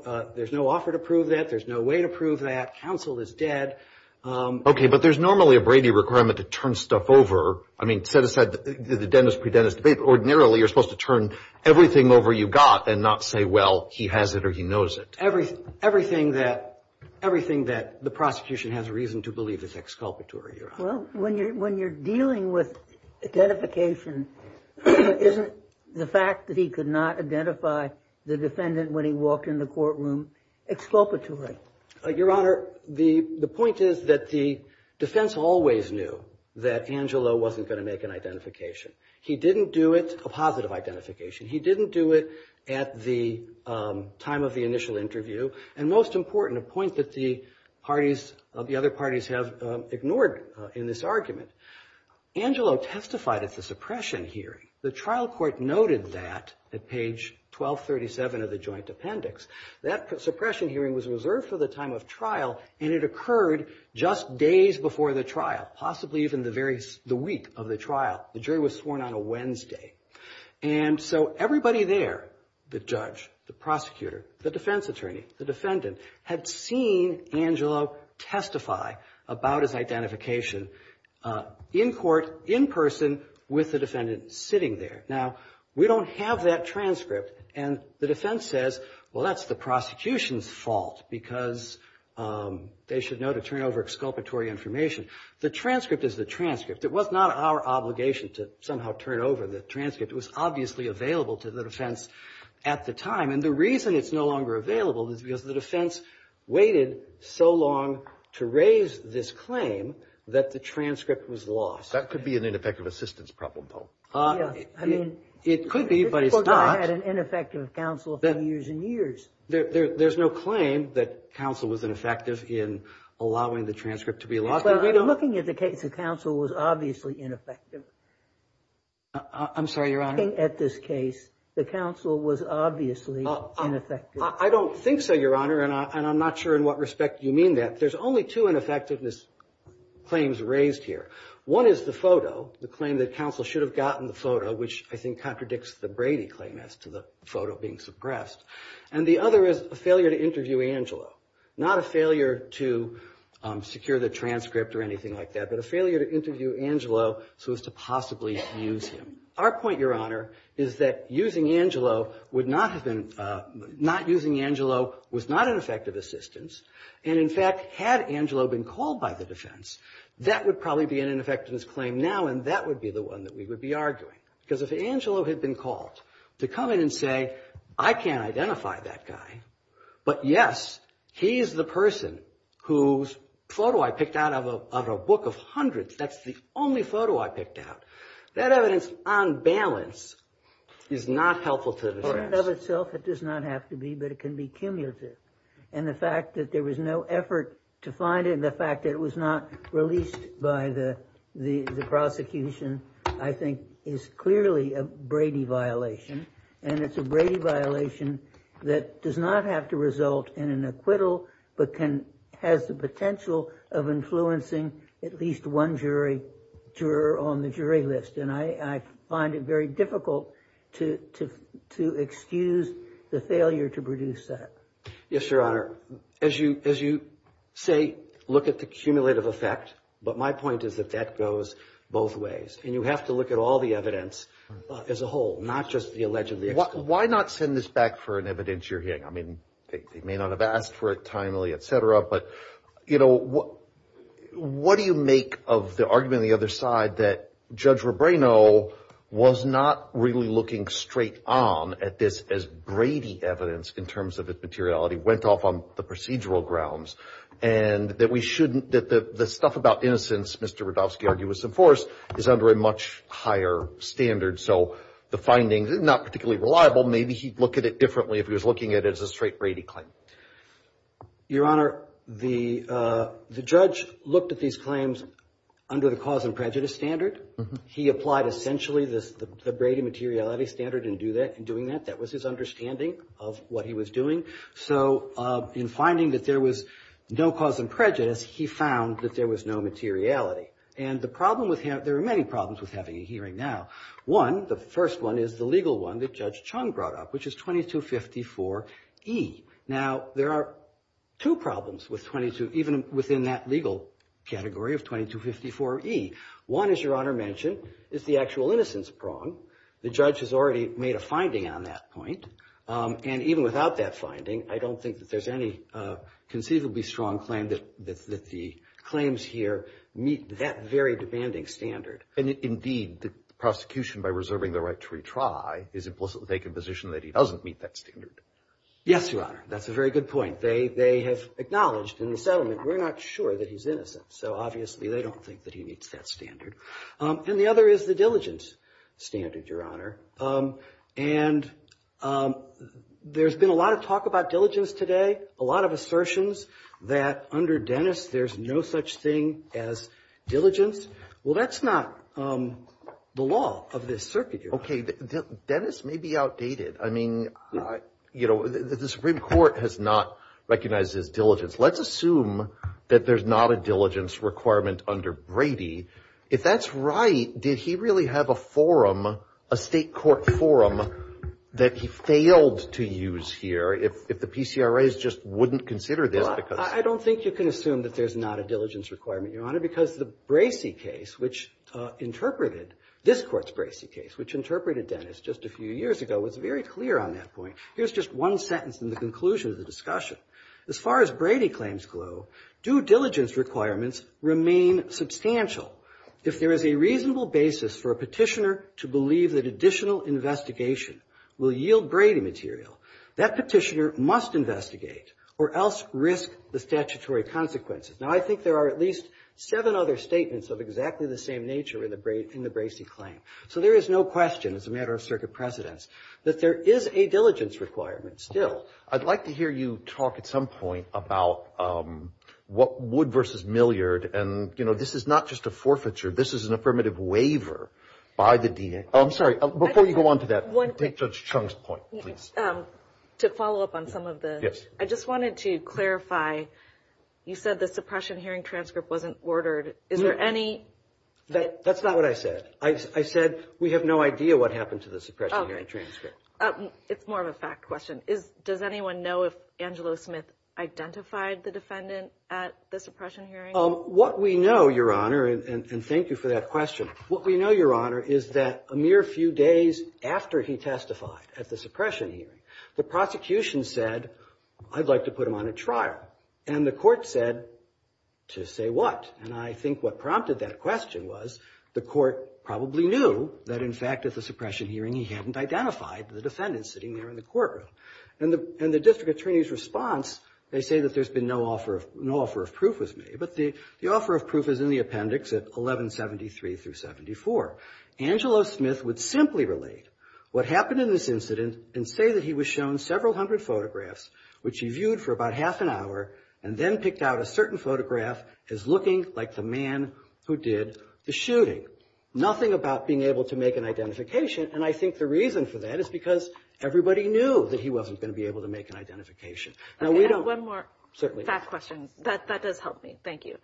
offer to prove that. There's no way to prove that. Counsel is dead. Okay, but there's normally a Brady requirement to turn stuff over. I mean, set aside the dentist, pre-dentist debate, ordinarily you're supposed to turn everything over you got and not say, well, he has it or he knows it. Everything that the prosecution has reason to believe is exculpatory, Your Honor. Well, when you're dealing with identification, isn't the fact that he could not identify the defendant when he walked in the courtroom exculpatory? Your Honor, the point is that the defense always knew that Angelo wasn't going to make an identification. He didn't do it, a positive identification. He didn't do it at the time of the initial interview. And most important, a point that the parties, the other parties have ignored in this argument, Angelo testified at the suppression hearing. The trial court noted that at page 1237 of the joint appendix. That suppression hearing was reserved for the time of trial, and it occurred just days before the trial, possibly even the week of the trial. The jury was sworn on a Wednesday. And so everybody there, the judge, the prosecutor, the defense attorney, the defendant, had seen Angelo testify about his identification in court, in person, with the defendant sitting there. Now, we don't have that transcript, and the defense says, well, that's the prosecution's fault because they should know to turn over exculpatory information. The transcript is the transcript. It was not our obligation to somehow turn over the transcript. It was obviously available to the defense at the time. And the reason it's no longer available is because the defense waited so long to raise this claim that the transcript was lost. That could be an ineffective assistance problem, Paul. Yes. I mean, it could be, but it's not. I had an ineffective counsel for years and years. There's no claim that counsel was ineffective in allowing the transcript to be lost. Well, I'm looking at the case. The counsel was obviously ineffective. I'm sorry, Your Honor. Looking at this case, the counsel was obviously ineffective. I don't think so, Your Honor, and I'm not sure in what respect you mean that. There's only two ineffectiveness claims raised here. One is the photo, the claim that counsel should have gotten the photo, which I think contradicts the Brady claim as to the photo being suppressed. And the other is a failure to interview Angelo, not a failure to secure the transcript or anything like that, but a failure to interview Angelo so as to possibly use him. Our point, Your Honor, is that using Angelo was not an effective assistance, and, in fact, had Angelo been called by the defense, that would probably be an ineffectiveness claim now, and that would be the one that we would be arguing. Because if Angelo had been called to come in and say, I can't identify that guy, but, yes, he is the person whose photo I picked out of a book of hundreds, that's the only photo I picked out, that evidence on balance is not helpful to the defense. In and of itself, it does not have to be, but it can be cumulative. And the fact that there was no effort to find it, and the fact that it was not released by the prosecution, I think, is clearly a Brady violation. And it's a Brady violation that does not have to result in an acquittal, but has the potential of influencing at least one juror on the jury list. And I find it very difficult to excuse the failure to produce that. Yes, Your Honor. As you say, look at the cumulative effect, but my point is that that goes both ways. And you have to look at all the evidence as a whole, not just the alleged. Why not send this back for an evidence you're hearing? I mean, they may not have asked for it timely, et cetera, but, you know, what do you make of the argument on the other side that Judge Rebrano was not really looking straight on at this as Brady evidence in terms of its materiality, went off on the procedural grounds, and that we shouldn't, that the stuff about innocence Mr. Radofsky argues was enforced is under a much higher standard. So the findings are not particularly reliable. Maybe he'd look at it differently if he was looking at it as a straight Brady claim. Your Honor, the judge looked at these claims under the cause and prejudice standard. He applied essentially the Brady materiality standard in doing that. That was his understanding of what he was doing. So in finding that there was no cause and prejudice, he found that there was no materiality. And the problem with him, there are many problems with having a hearing now. One, the first one, is the legal one that Judge Chung brought up, which is 2254E. Now, there are two problems with 22, even within that legal category of 2254E. One, as Your Honor mentioned, is the actual innocence prong. The judge has already made a finding on that point, and even without that finding, I don't think that there's any conceivably strong claim that the claims here meet that very demanding standard. Indeed, the prosecution, by reserving the right to retry, is implicitly taking a position that he doesn't meet that standard. Yes, Your Honor. That's a very good point. They have acknowledged in the settlement we're not sure that he's innocent, so obviously they don't think that he meets that standard. And the other is the diligence standard, Your Honor. And there's been a lot of talk about diligence today, a lot of assertions that under Dennis there's no such thing as diligence. Well, that's not the law of this circuit, Your Honor. Okay. Dennis may be outdated. I mean, you know, the Supreme Court has not recognized his diligence. Let's assume that there's not a diligence requirement under Brady. If that's right, did he really have a forum, a State court forum, that he failed to use here if the PCRAs just wouldn't consider this? Well, I don't think you can assume that there's not a diligence requirement, Your Honor, because the Bracey case, which interpreted this Court's Bracey case, which interpreted Dennis just a few years ago, was very clear on that point. Here's just one sentence in the conclusion of the discussion. As far as Brady claims go, due diligence requirements remain substantial. If there is a reasonable basis for a Petitioner to believe that additional investigation will yield Brady material, that Petitioner must investigate or else risk the statutory consequences. Now, I think there are at least seven other statements of exactly the same nature in the Bracey claim. So there is no question, as a matter of circuit precedence, that there is a diligence requirement still. I'd like to hear you talk at some point about Wood v. Milliard. And, you know, this is not just a forfeiture. This is an affirmative waiver by the DNA. I'm sorry. Before you go on to that, take Judge Chung's point, please. To follow up on some of this, I just wanted to clarify, you said the suppression hearing transcript wasn't ordered. Is there any? That's not what I said. I said we have no idea what happened to the suppression hearing transcript. It's more of a fact question. Does anyone know if Angelo Smith identified the defendant at the suppression hearing? What we know, Your Honor, and thank you for that question, what we know, Your Honor, is that a mere few days after he testified at the suppression hearing, the prosecution said, I'd like to put him on a trial. And the court said, to say what? And I think what prompted that question was the court probably knew that, in fact, at the suppression hearing he hadn't identified the defendant sitting there in the courtroom. And the district attorney's response, they say that there's been no offer of proof was made. But the offer of proof is in the appendix at 1173 through 74. Angelo Smith would simply relate what happened in this incident and say that he was shown several hundred photographs, which he viewed for about half an hour and then picked out a certain photograph as looking like the man who did the shooting. Nothing about being able to make an identification. And I think the reason for that is because everybody knew that he wasn't going to be able to make an identification. One more fact question. That does help me. Thank you.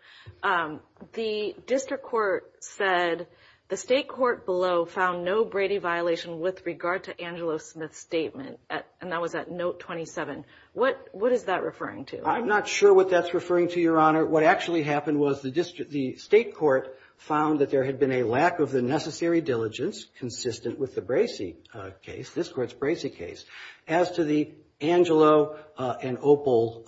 The district court said the state court below found no Brady violation with regard to Angelo Smith's statement. And that was at note 27. What is that referring to? I'm not sure what that's referring to, Your Honor. What actually happened was the state court found that there had been a lack of the necessary diligence consistent with the Bracey case, this court's Bracey case, as to the Angelo and Opal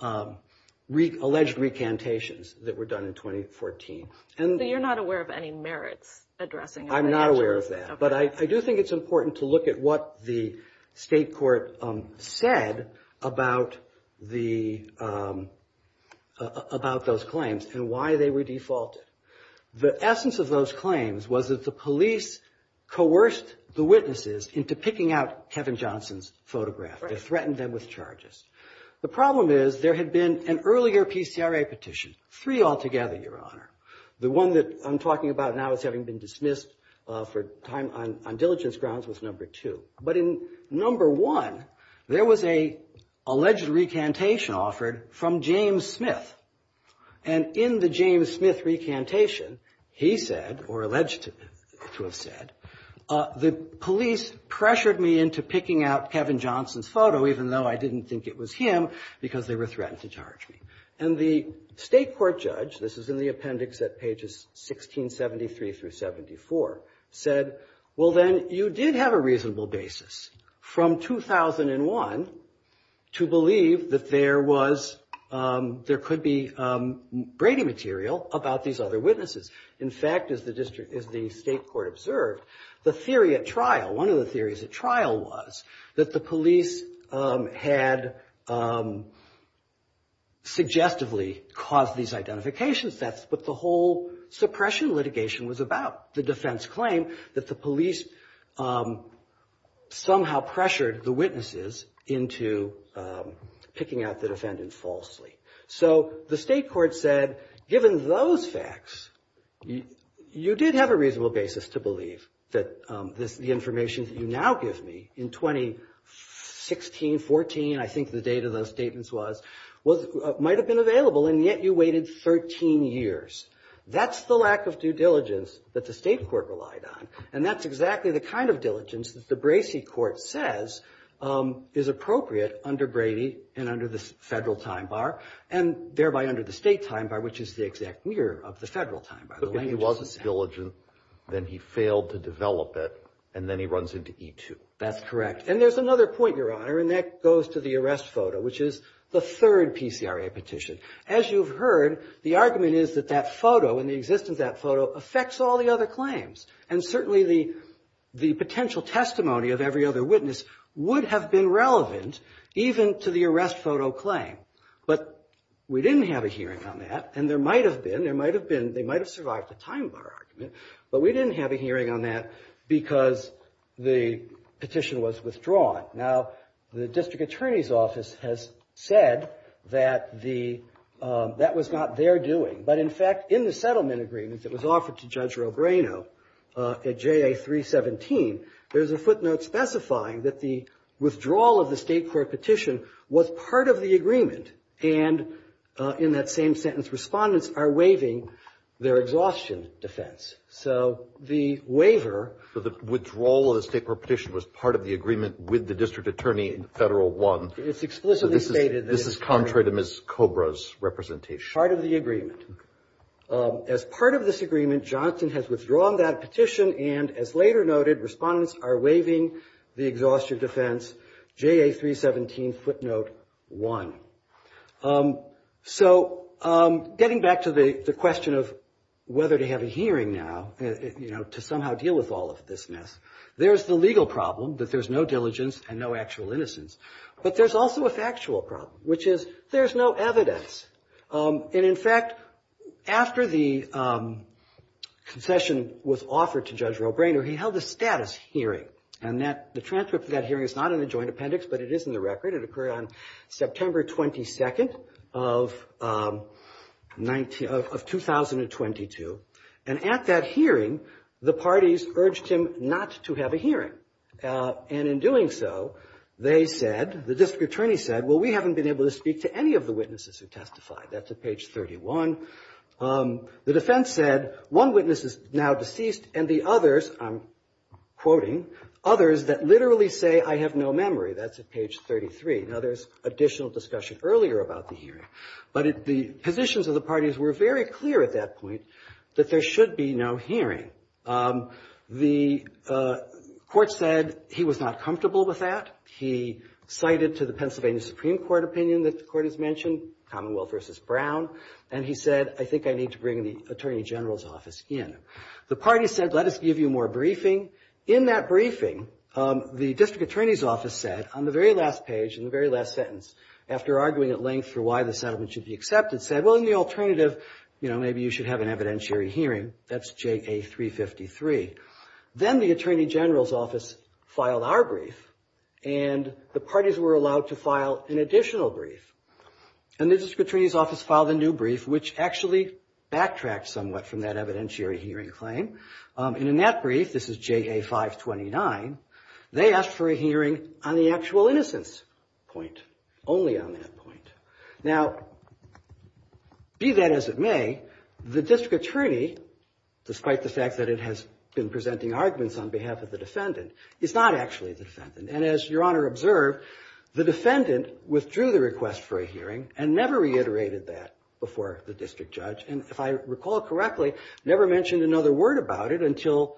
alleged recantations that were done in 2014. So you're not aware of any merits addressing it? I'm not aware of that. But I do think it's important to look at what the state court said about those claims and why they were defaulted. The essence of those claims was that the police coerced the witnesses into picking out Kevin Johnson's photograph. They threatened them with charges. The problem is there had been an earlier PCRA petition, three altogether, Your Honor. The one that I'm talking about now as having been dismissed for time on diligence grounds was number two. But in number one, there was an alleged recantation offered from James Smith. And in the James Smith recantation, he said, or alleged to have said, the police pressured me into picking out Kevin Johnson's photo, even though I didn't think it was him, because they were threatened to charge me. And the state court judge, this is in the appendix at pages 1673 through 74, said, well, then you did have a reasonable basis from 2001 to believe that there was, there could be Brady material about these other witnesses. In fact, as the district, as the state court observed, the theory at trial, one of the theories at trial was that the police had suggestively caused these identification thefts, but the whole suppression litigation was about. The defense claimed that the police somehow pressured the witnesses into picking out the defendant falsely. So the state court said, given those facts, you did have a reasonable basis to believe that this, the information that you now give me in 2016, 14, I think the date of those statements was, might have been available, and yet you waited 13 years. That's the lack of due diligence that the state court relied on, and that's exactly the kind of diligence that the Bracey court says is appropriate under Brady and under the federal time bar, and thereby under the state time bar, which is the exact mirror of the federal time bar. The language is the same. But if he wasn't diligent, then he failed to develop it, and then he runs into E2. That's correct. And there's another point, Your Honor, and that goes to the arrest photo, which is the third PCRA petition. As you've heard, the argument is that that photo and the existence of that photo affects all the other claims, and certainly the potential testimony of every other witness would have been relevant even to the arrest photo claim. But we didn't have a hearing on that, and there might have been. There might have been. They might have survived the time bar argument, but we didn't have a hearing on that because the petition was withdrawn. Now, the district attorney's office has said that the — that was not their doing. But, in fact, in the settlement agreement that was offered to Judge Robrano at JA317, there's a footnote specifying that the withdrawal of the state court petition was part of the agreement, and in that same sentence, respondents are waiving their exhaustion defense. So the waiver — The withdrawal of the state court petition was part of the agreement with the district attorney in Federal 1. It's explicitly stated that — This is contrary to Ms. Cobra's representation. Part of the agreement. As part of this agreement, Johnston has withdrawn that petition, and as later noted, respondents are waiving the exhaustion defense, JA317 footnote 1. So getting back to the question of whether to have a hearing now, you know, to somehow deal with all of this mess, there's the legal problem that there's no diligence and no actual innocence. But there's also a factual problem, which is there's no evidence. And, in fact, after the concession was offered to Judge Robrano, he held a status hearing, and that — the transcript of that hearing is not in the joint appendix, but it is in the record. It occurred on September 22nd of 19 — of 2022. And at that hearing, the parties urged him not to have a hearing. And in doing so, they said — the district attorney said, well, we haven't been able to speak to any of the witnesses who testified. That's at page 31. The defense said one witness is now deceased, and the others — I'm quoting — that literally say, I have no memory. That's at page 33. Now, there's additional discussion earlier about the hearing. But the positions of the parties were very clear at that point that there should be no hearing. The court said he was not comfortable with that. He cited to the Pennsylvania Supreme Court opinion that the court has mentioned, Commonwealth v. Brown. And he said, I think I need to bring the attorney general's office in. The party said, let us give you more briefing. In that briefing, the district attorney's office said, on the very last page, in the very last sentence, after arguing at length for why the settlement should be accepted, said, well, in the alternative, maybe you should have an evidentiary hearing. That's J.A. 353. Then the attorney general's office filed our brief, and the parties were allowed to file an additional brief. And the district attorney's office filed a new brief, which actually backtracked somewhat from that evidentiary hearing claim. And in that brief, this is J.A. 529, they asked for a hearing on the actual innocence point, only on that point. Now, be that as it may, the district attorney, despite the fact that it has been presenting arguments on behalf of the defendant, is not actually the defendant. And as Your Honor observed, the defendant withdrew the request for a hearing and never reiterated that before the district judge. And if I recall correctly, never mentioned another word about it until,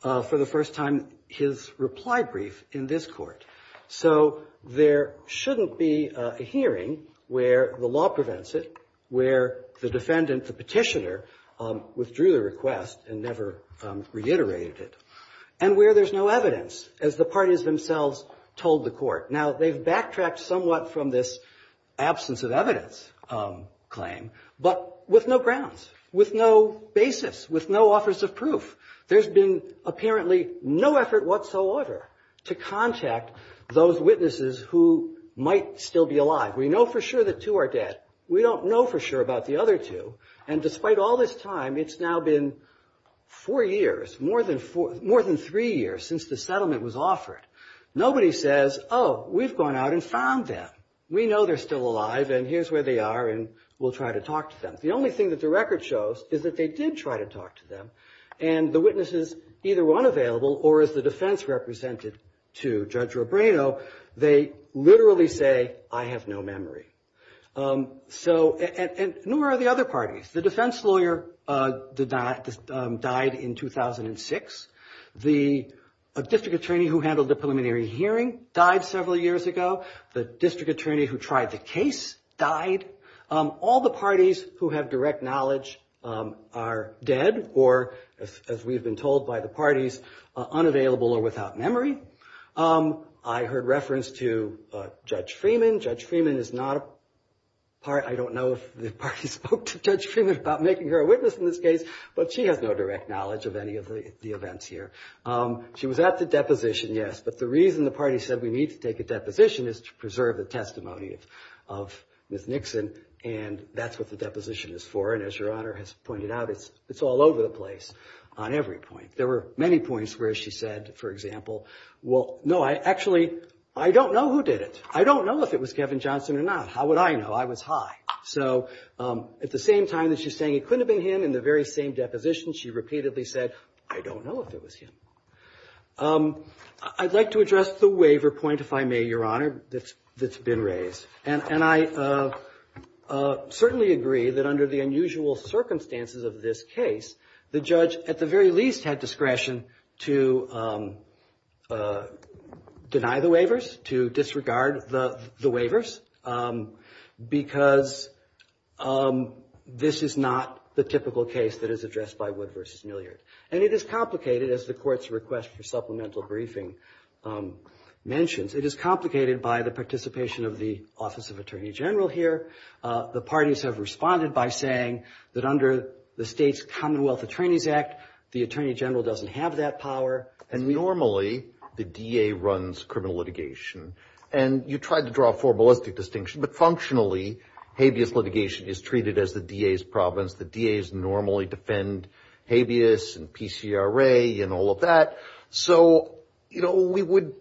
for the first time, his reply brief in this court. So there shouldn't be a hearing where the law prevents it, where the defendant, the petitioner, withdrew the request and never reiterated it, and where there's no evidence, as the parties themselves told the court. Now, they've backtracked somewhat from this absence of evidence claim, but with no grounds, with no basis, with no offers of proof. There's been apparently no effort whatsoever to contact those witnesses who might still be alive. We know for sure that two are dead. We don't know for sure about the other two. And despite all this time, it's now been four years, more than three years, since the settlement was offered. Nobody says, oh, we've gone out and found them. We know they're still alive, and here's where they are, and we'll try to talk to them. The only thing that the record shows is that they did try to talk to them, and the witnesses either weren't available or, as the defense represented to Judge Robrano, they literally say, I have no memory. And nor are the other parties. The defense lawyer died in 2006. The district attorney who handled the preliminary hearing died several years ago. The district attorney who tried the case died. All the parties who have direct knowledge are dead or, as we've been told by the parties, unavailable or without memory. I heard reference to Judge Freeman. Judge Freeman is not a part. I don't know if the parties spoke to Judge Freeman about making her a witness in this case, but she has no direct knowledge of any of the events here. She was at the deposition, yes, but the reason the party said we need to take a deposition is to preserve the testimony of Ms. Nixon, and that's what the deposition is for, and as Your Honor has pointed out, it's all over the place on every point. There were many points where she said, for example, well, no, actually, I don't know who did it. I don't know if it was Kevin Johnson or not. How would I know? I was high. So at the same time that she's saying it couldn't have been him in the very same deposition, she repeatedly said, I don't know if it was him. I'd like to address the waiver point, if I may, Your Honor, that's been raised, and I certainly agree that under the unusual circumstances of this case, the judge at the very least had discretion to deny the waivers, to disregard the waivers, because this is not the typical case that is addressed by Wood v. Milliard, and it is complicated, as the Court's request for supplemental briefing mentions. It is complicated by the participation of the Office of Attorney General here. The parties have responded by saying that under the state's Commonwealth Attorneys Act, the Attorney General doesn't have that power. And normally, the DA runs criminal litigation, and you tried to draw a formalistic distinction, but functionally, habeas litigation is treated as the DA's province. The DAs normally defend habeas and PCRA and all of that. So, you know, we would,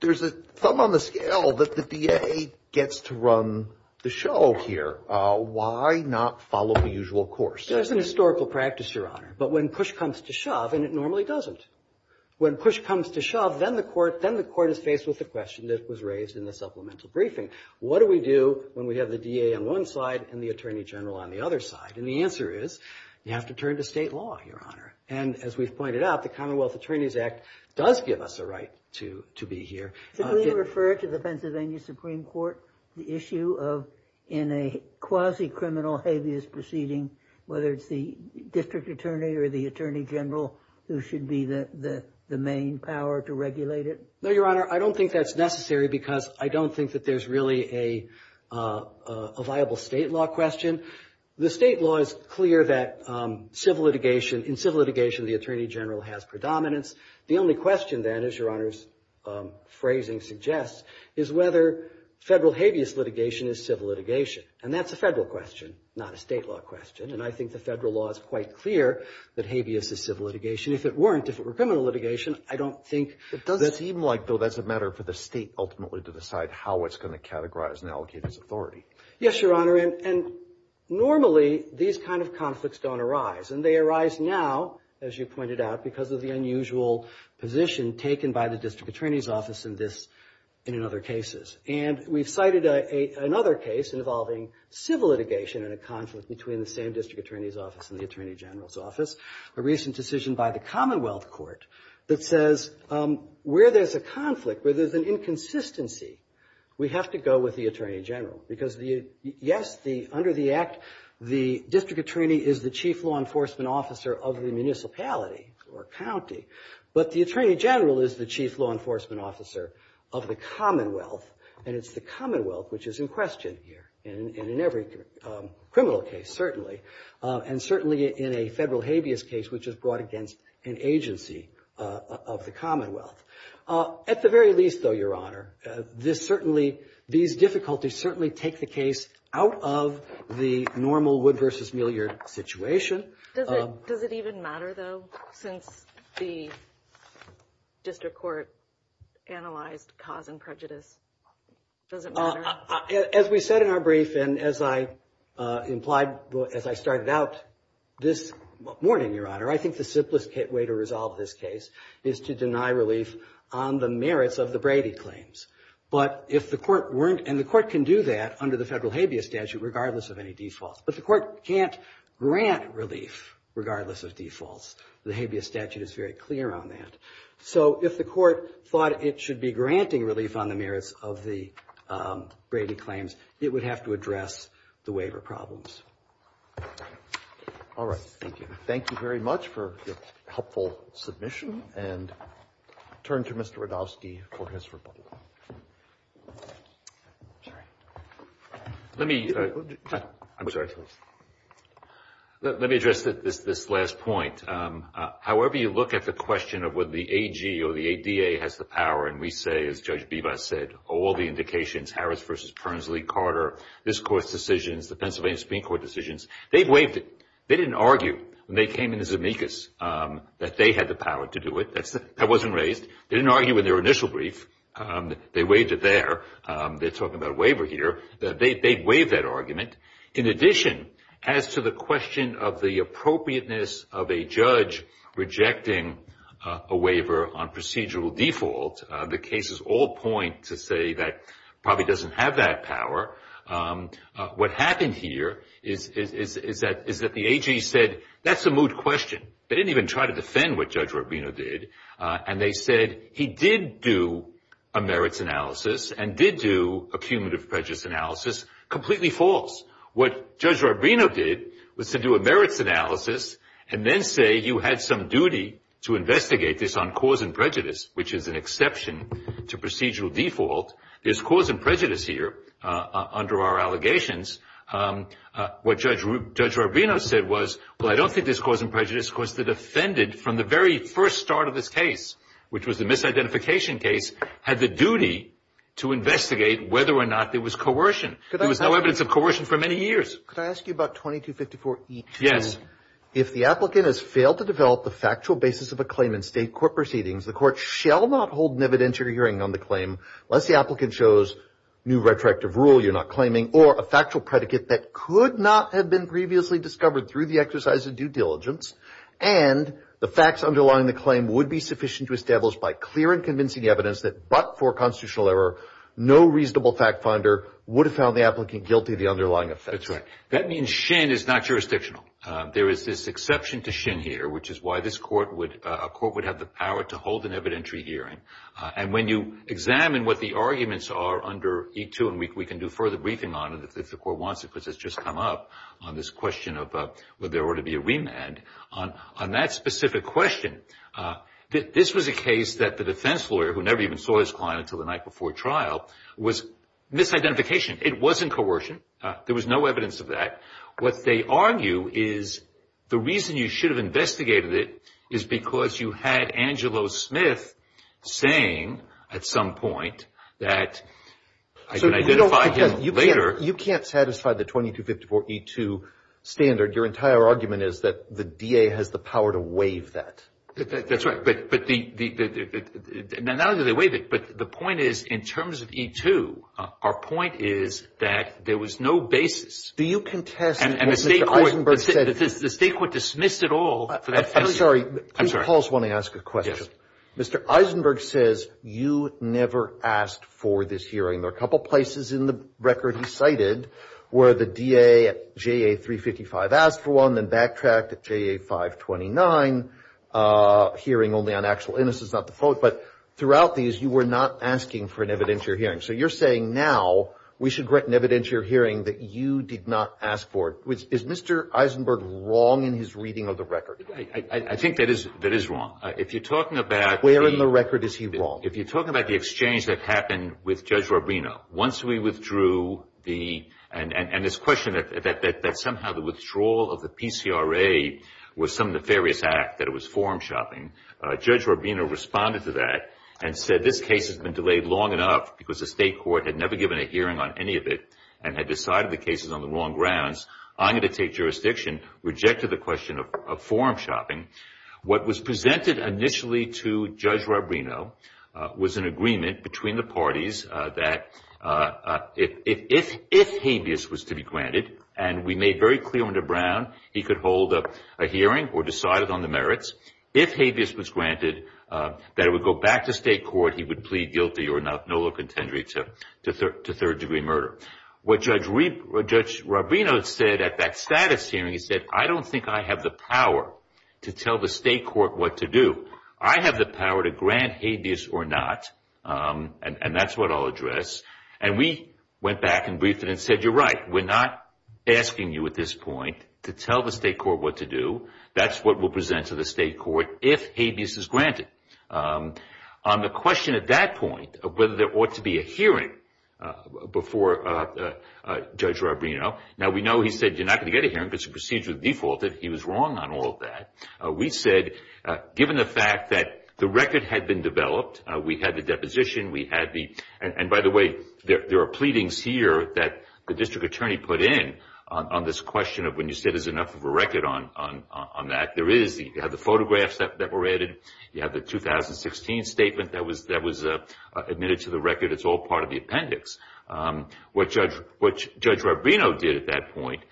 there's a thumb on the scale that the DA gets to run the show here. Why not follow the usual course? There's an historical practice, Your Honor, but when push comes to shove, and it normally doesn't, when push comes to shove, then the Court is faced with the question that was raised in the supplemental briefing. What do we do when we have the DA on one side and the Attorney General on the other side? And the answer is, you have to turn to state law, Your Honor. And as we've pointed out, the Commonwealth Attorneys Act does give us a right to be here. Should we refer to the Pennsylvania Supreme Court the issue of, in a quasi-criminal habeas proceeding, whether it's the district attorney or the Attorney General who should be the main power to regulate it? No, Your Honor, I don't think that's necessary because I don't think that there's really a viable state law question. The state law is clear that civil litigation, in civil litigation, the Attorney General has predominance. The only question, then, as Your Honor's phrasing suggests, is whether federal habeas litigation is civil litigation. And that's a federal question, not a state law question. And I think the federal law is quite clear that habeas is civil litigation. If it weren't, if it were criminal litigation, I don't think that's. It does seem like, though, that's a matter for the state ultimately to decide how it's going to categorize and allocate its authority. Yes, Your Honor, and normally these kind of conflicts don't arise. And they arise now, as you pointed out, because of the unusual position taken by the district attorney's office in this and in other cases. And we've cited another case involving civil litigation in a conflict between the same district attorney's office and the Attorney General's office, a recent decision by the Commonwealth Court that says where there's a conflict, where there's an inconsistency, we have to go with the Attorney General. Because, yes, under the Act, the district attorney is the chief law enforcement officer of the municipality or county, but the Attorney General is the chief law enforcement officer of the Commonwealth, and it's the Commonwealth which is in question here, and in every criminal case, certainly, and certainly in a federal habeas case which is brought against an agency of the Commonwealth. At the very least, though, Your Honor, this certainly, these difficulties certainly take the case out of the normal Wood v. Millyard situation. Does it even matter, though, since the district court analyzed cause and prejudice? Does it matter? As we said in our brief and as I implied as I started out this morning, Your Honor, I think the simplest way to resolve this case is to deny relief on the merits of the Brady claims. But if the court weren't, and the court can do that under the federal habeas statute regardless of any defaults, but the court can't grant relief regardless of defaults. The habeas statute is very clear on that. So if the court thought it should be granting relief on the merits of the Brady claims, it would have to address the waiver problems. All right. Thank you. Thank you very much for your helpful submission. And I'll turn to Mr. Radofsky for his rebuttal. Let me address this last point. However you look at the question of whether the AG or the ADA has the power, and we say, as Judge Bevis said, all the indications, Harris v. Pernsley, Carter, this Court's decisions, the Pennsylvania Supreme Court decisions, they've waived it. They didn't argue when they came into Zemeckis that they had the power to do it. That wasn't raised. They didn't argue in their initial brief. They waived it there. They're talking about a waiver here. They waived that argument. In addition, as to the question of the appropriateness of a judge rejecting a waiver on procedural default, the cases all point to say that probably doesn't have that power. What happened here is that the AG said that's a moot question. They didn't even try to defend what Judge Rubino did, and they said he did do a merits analysis and did do a cumulative prejudice analysis, completely false. What Judge Rubino did was to do a merits analysis and then say you had some duty to investigate this on cause and prejudice, which is an exception to procedural default. There's cause and prejudice here under our allegations. What Judge Rubino said was, well, I don't think there's cause and prejudice because the defendant, from the very first start of this case, which was the misidentification case, had the duty to investigate whether or not there was coercion. There was no evidence of coercion for many years. Could I ask you about 2254E2? Yes. If the applicant has failed to develop the factual basis of a claim in state court proceedings, the court shall not hold an evidentiary hearing on the claim unless the applicant shows new retroactive rule you're not claiming or a factual predicate that could not have been previously discovered through the exercise of due diligence and the facts underlying the claim would be sufficient to establish by clear and convincing evidence that but for constitutional error, no reasonable fact finder would have found the applicant guilty of the underlying offense. That's right. That means Shin is not jurisdictional. There is this exception to Shin here, which is why this court would have the power to hold an evidentiary hearing. And when you examine what the arguments are under E2, and we can do further briefing on it if the court wants it because it's just come up on this question of whether there ought to be a remand. On that specific question, this was a case that the defense lawyer, who never even saw his client until the night before trial, was misidentification. It wasn't coercion. There was no evidence of that. What they argue is the reason you should have investigated it is because you had Angelo Smith saying at some point that I can identify him later. You can't satisfy the 2254E2 standard. Your entire argument is that the DA has the power to waive that. That's right. Not only do they waive it, but the point is in terms of E2, our point is that there was no basis. Do you contest what Mr. Eisenberg said? And the State court dismissed it all. I'm sorry. I'm sorry. Please pause while I ask a question. Yes. Mr. Eisenberg says you never asked for this hearing. There are a couple places in the record he cited where the DA at JA355 asked for one, then backtracked at JA529, hearing only on actual innocence, not the fault. But throughout these, you were not asking for an evidentiary hearing. So you're saying now we should write an evidentiary hearing that you did not ask for it. Is Mr. Eisenberg wrong in his reading of the record? I think that is wrong. Where in the record is he wrong? If you're talking about the exchange that happened with Judge Rubino, once we withdrew the – and this question that somehow the withdrawal of the PCRA was some nefarious act, that it was forum shopping, Judge Rubino responded to that and said this case has been delayed long enough because the State court had never given a hearing on any of it and had decided the case was on the wrong grounds. I'm going to take jurisdiction, rejected the question of forum shopping. What was presented initially to Judge Rubino was an agreement between the parties that if habeas was to be granted, and we made very clear under Brown he could hold a hearing or decide it on the merits, if habeas was granted, that it would go back to State court. He would plead guilty or no contendere to third-degree murder. What Judge Rubino said at that status hearing, he said, I don't think I have the power to tell the State court what to do. I have the power to grant habeas or not, and that's what I'll address. And we went back and briefed it and said, you're right. We're not asking you at this point to tell the State court what to do. That's what we'll present to the State court if habeas is granted. On the question at that point of whether there ought to be a hearing before Judge Rubino, now we know he said you're not going to get a hearing because the procedure defaulted. He was wrong on all of that. We said given the fact that the record had been developed, we had the deposition, we had the – and by the way, there are pleadings here that the district attorney put in on this question of when you said there's enough of a record on that. There is. You have the photographs that were added. You have the 2016 statement that was admitted to the record. It's all part of the appendix. What Judge Rubino did at that point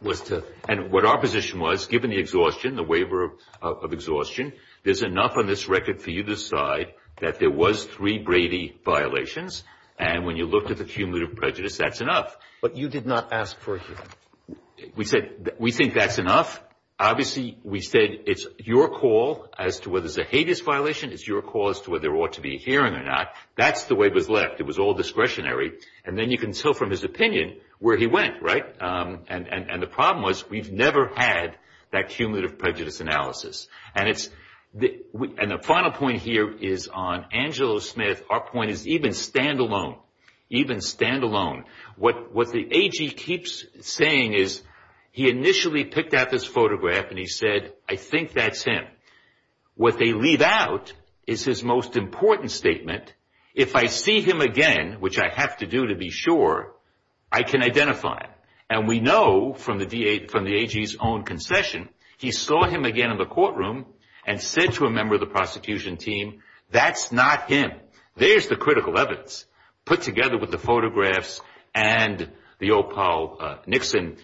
was to – and what our position was, given the exhaustion, the waiver of exhaustion, there's enough on this record for you to decide that there was three Brady violations, and when you looked at the cumulative prejudice, that's enough. But you did not ask for a hearing. We said we think that's enough. Obviously, we said it's your call as to whether it's a hadest violation. It's your call as to whether there ought to be a hearing or not. That's the way it was left. It was all discretionary. And then you can tell from his opinion where he went, right? And the problem was we've never had that cumulative prejudice analysis. And the final point here is on Angelo Smith. Our point is even standalone, even standalone. What the AG keeps saying is he initially picked out this photograph and he said, I think that's him. What they leave out is his most important statement, if I see him again, which I have to do to be sure, I can identify him. And we know from the AG's own concession, he saw him again in the courtroom and said to a member of the prosecution team, that's not him. There's the critical evidence put together with the photographs and the old Paul Nixon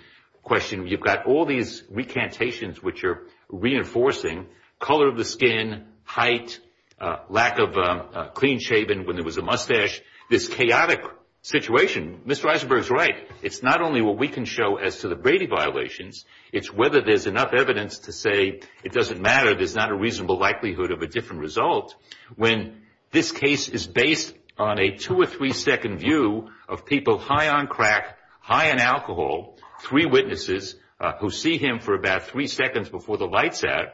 question. You've got all these recantations which are reinforcing color of the skin, height, lack of clean shaven when there was a mustache, this chaotic situation. Mr. Eisenberg's right. It's not only what we can show as to the Brady violations, it's whether there's enough evidence to say it doesn't matter, there's not a reasonable likelihood of a different result. When this case is based on a two or three second view of people high on crack, high on alcohol, three witnesses who see him for about three seconds before the lights out,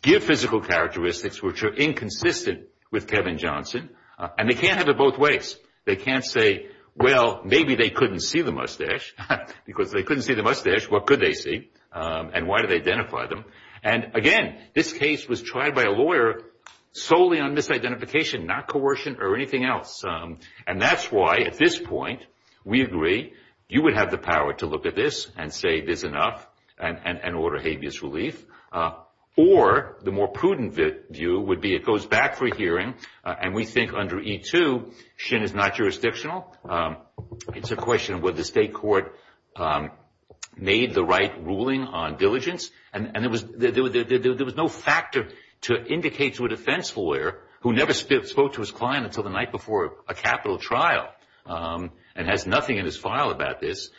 give physical characteristics which are inconsistent with Kevin Johnson, and they can't have it both ways. They can't say, well, maybe they couldn't see the mustache, because if they couldn't see the mustache, what could they see, and why do they identify them? And, again, this case was tried by a lawyer solely on misidentification, not coercion or anything else. And that's why at this point we agree you would have the power to look at this and say it is enough and order habeas relief, or the more prudent view would be it goes back for hearing, and we think under E2, Shin is not jurisdictional. It's a question of whether the state court made the right ruling on diligence, and there was no factor to indicate to a defense lawyer who never spoke to his client until the night before a capital trial and has nothing in his file about this,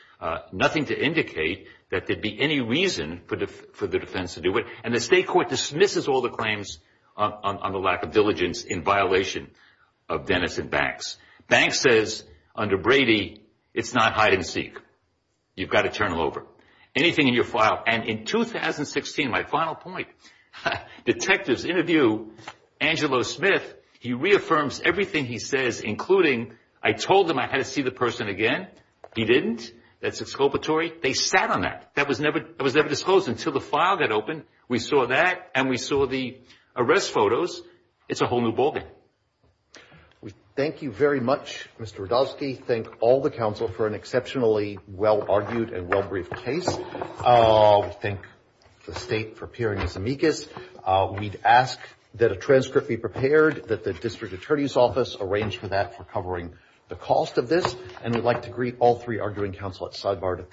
nothing to indicate that there'd be any reason for the defense to do it, and the state court dismisses all the claims on the lack of diligence in violation of Dennis and Banks. Banks says under Brady it's not hide and seek. You've got to turn them over. Anything in your file. And in 2016, my final point, detectives interview Angelo Smith. He reaffirms everything he says, including I told them I had to see the person again. He didn't. That's exculpatory. They sat on that. That was never disclosed until the file got opened. We saw that, and we saw the arrest photos. It's a whole new ballgame. Thank you very much, Mr. Radovsky. Thank all the counsel for an exceptionally well-argued and well-briefed case. Thank the state for appearing as amicus. We'd ask that a transcript be prepared, that the district attorney's office arrange for that for covering the cost of this, and we'd like to greet all three arguing counsel at sidebar to thank them.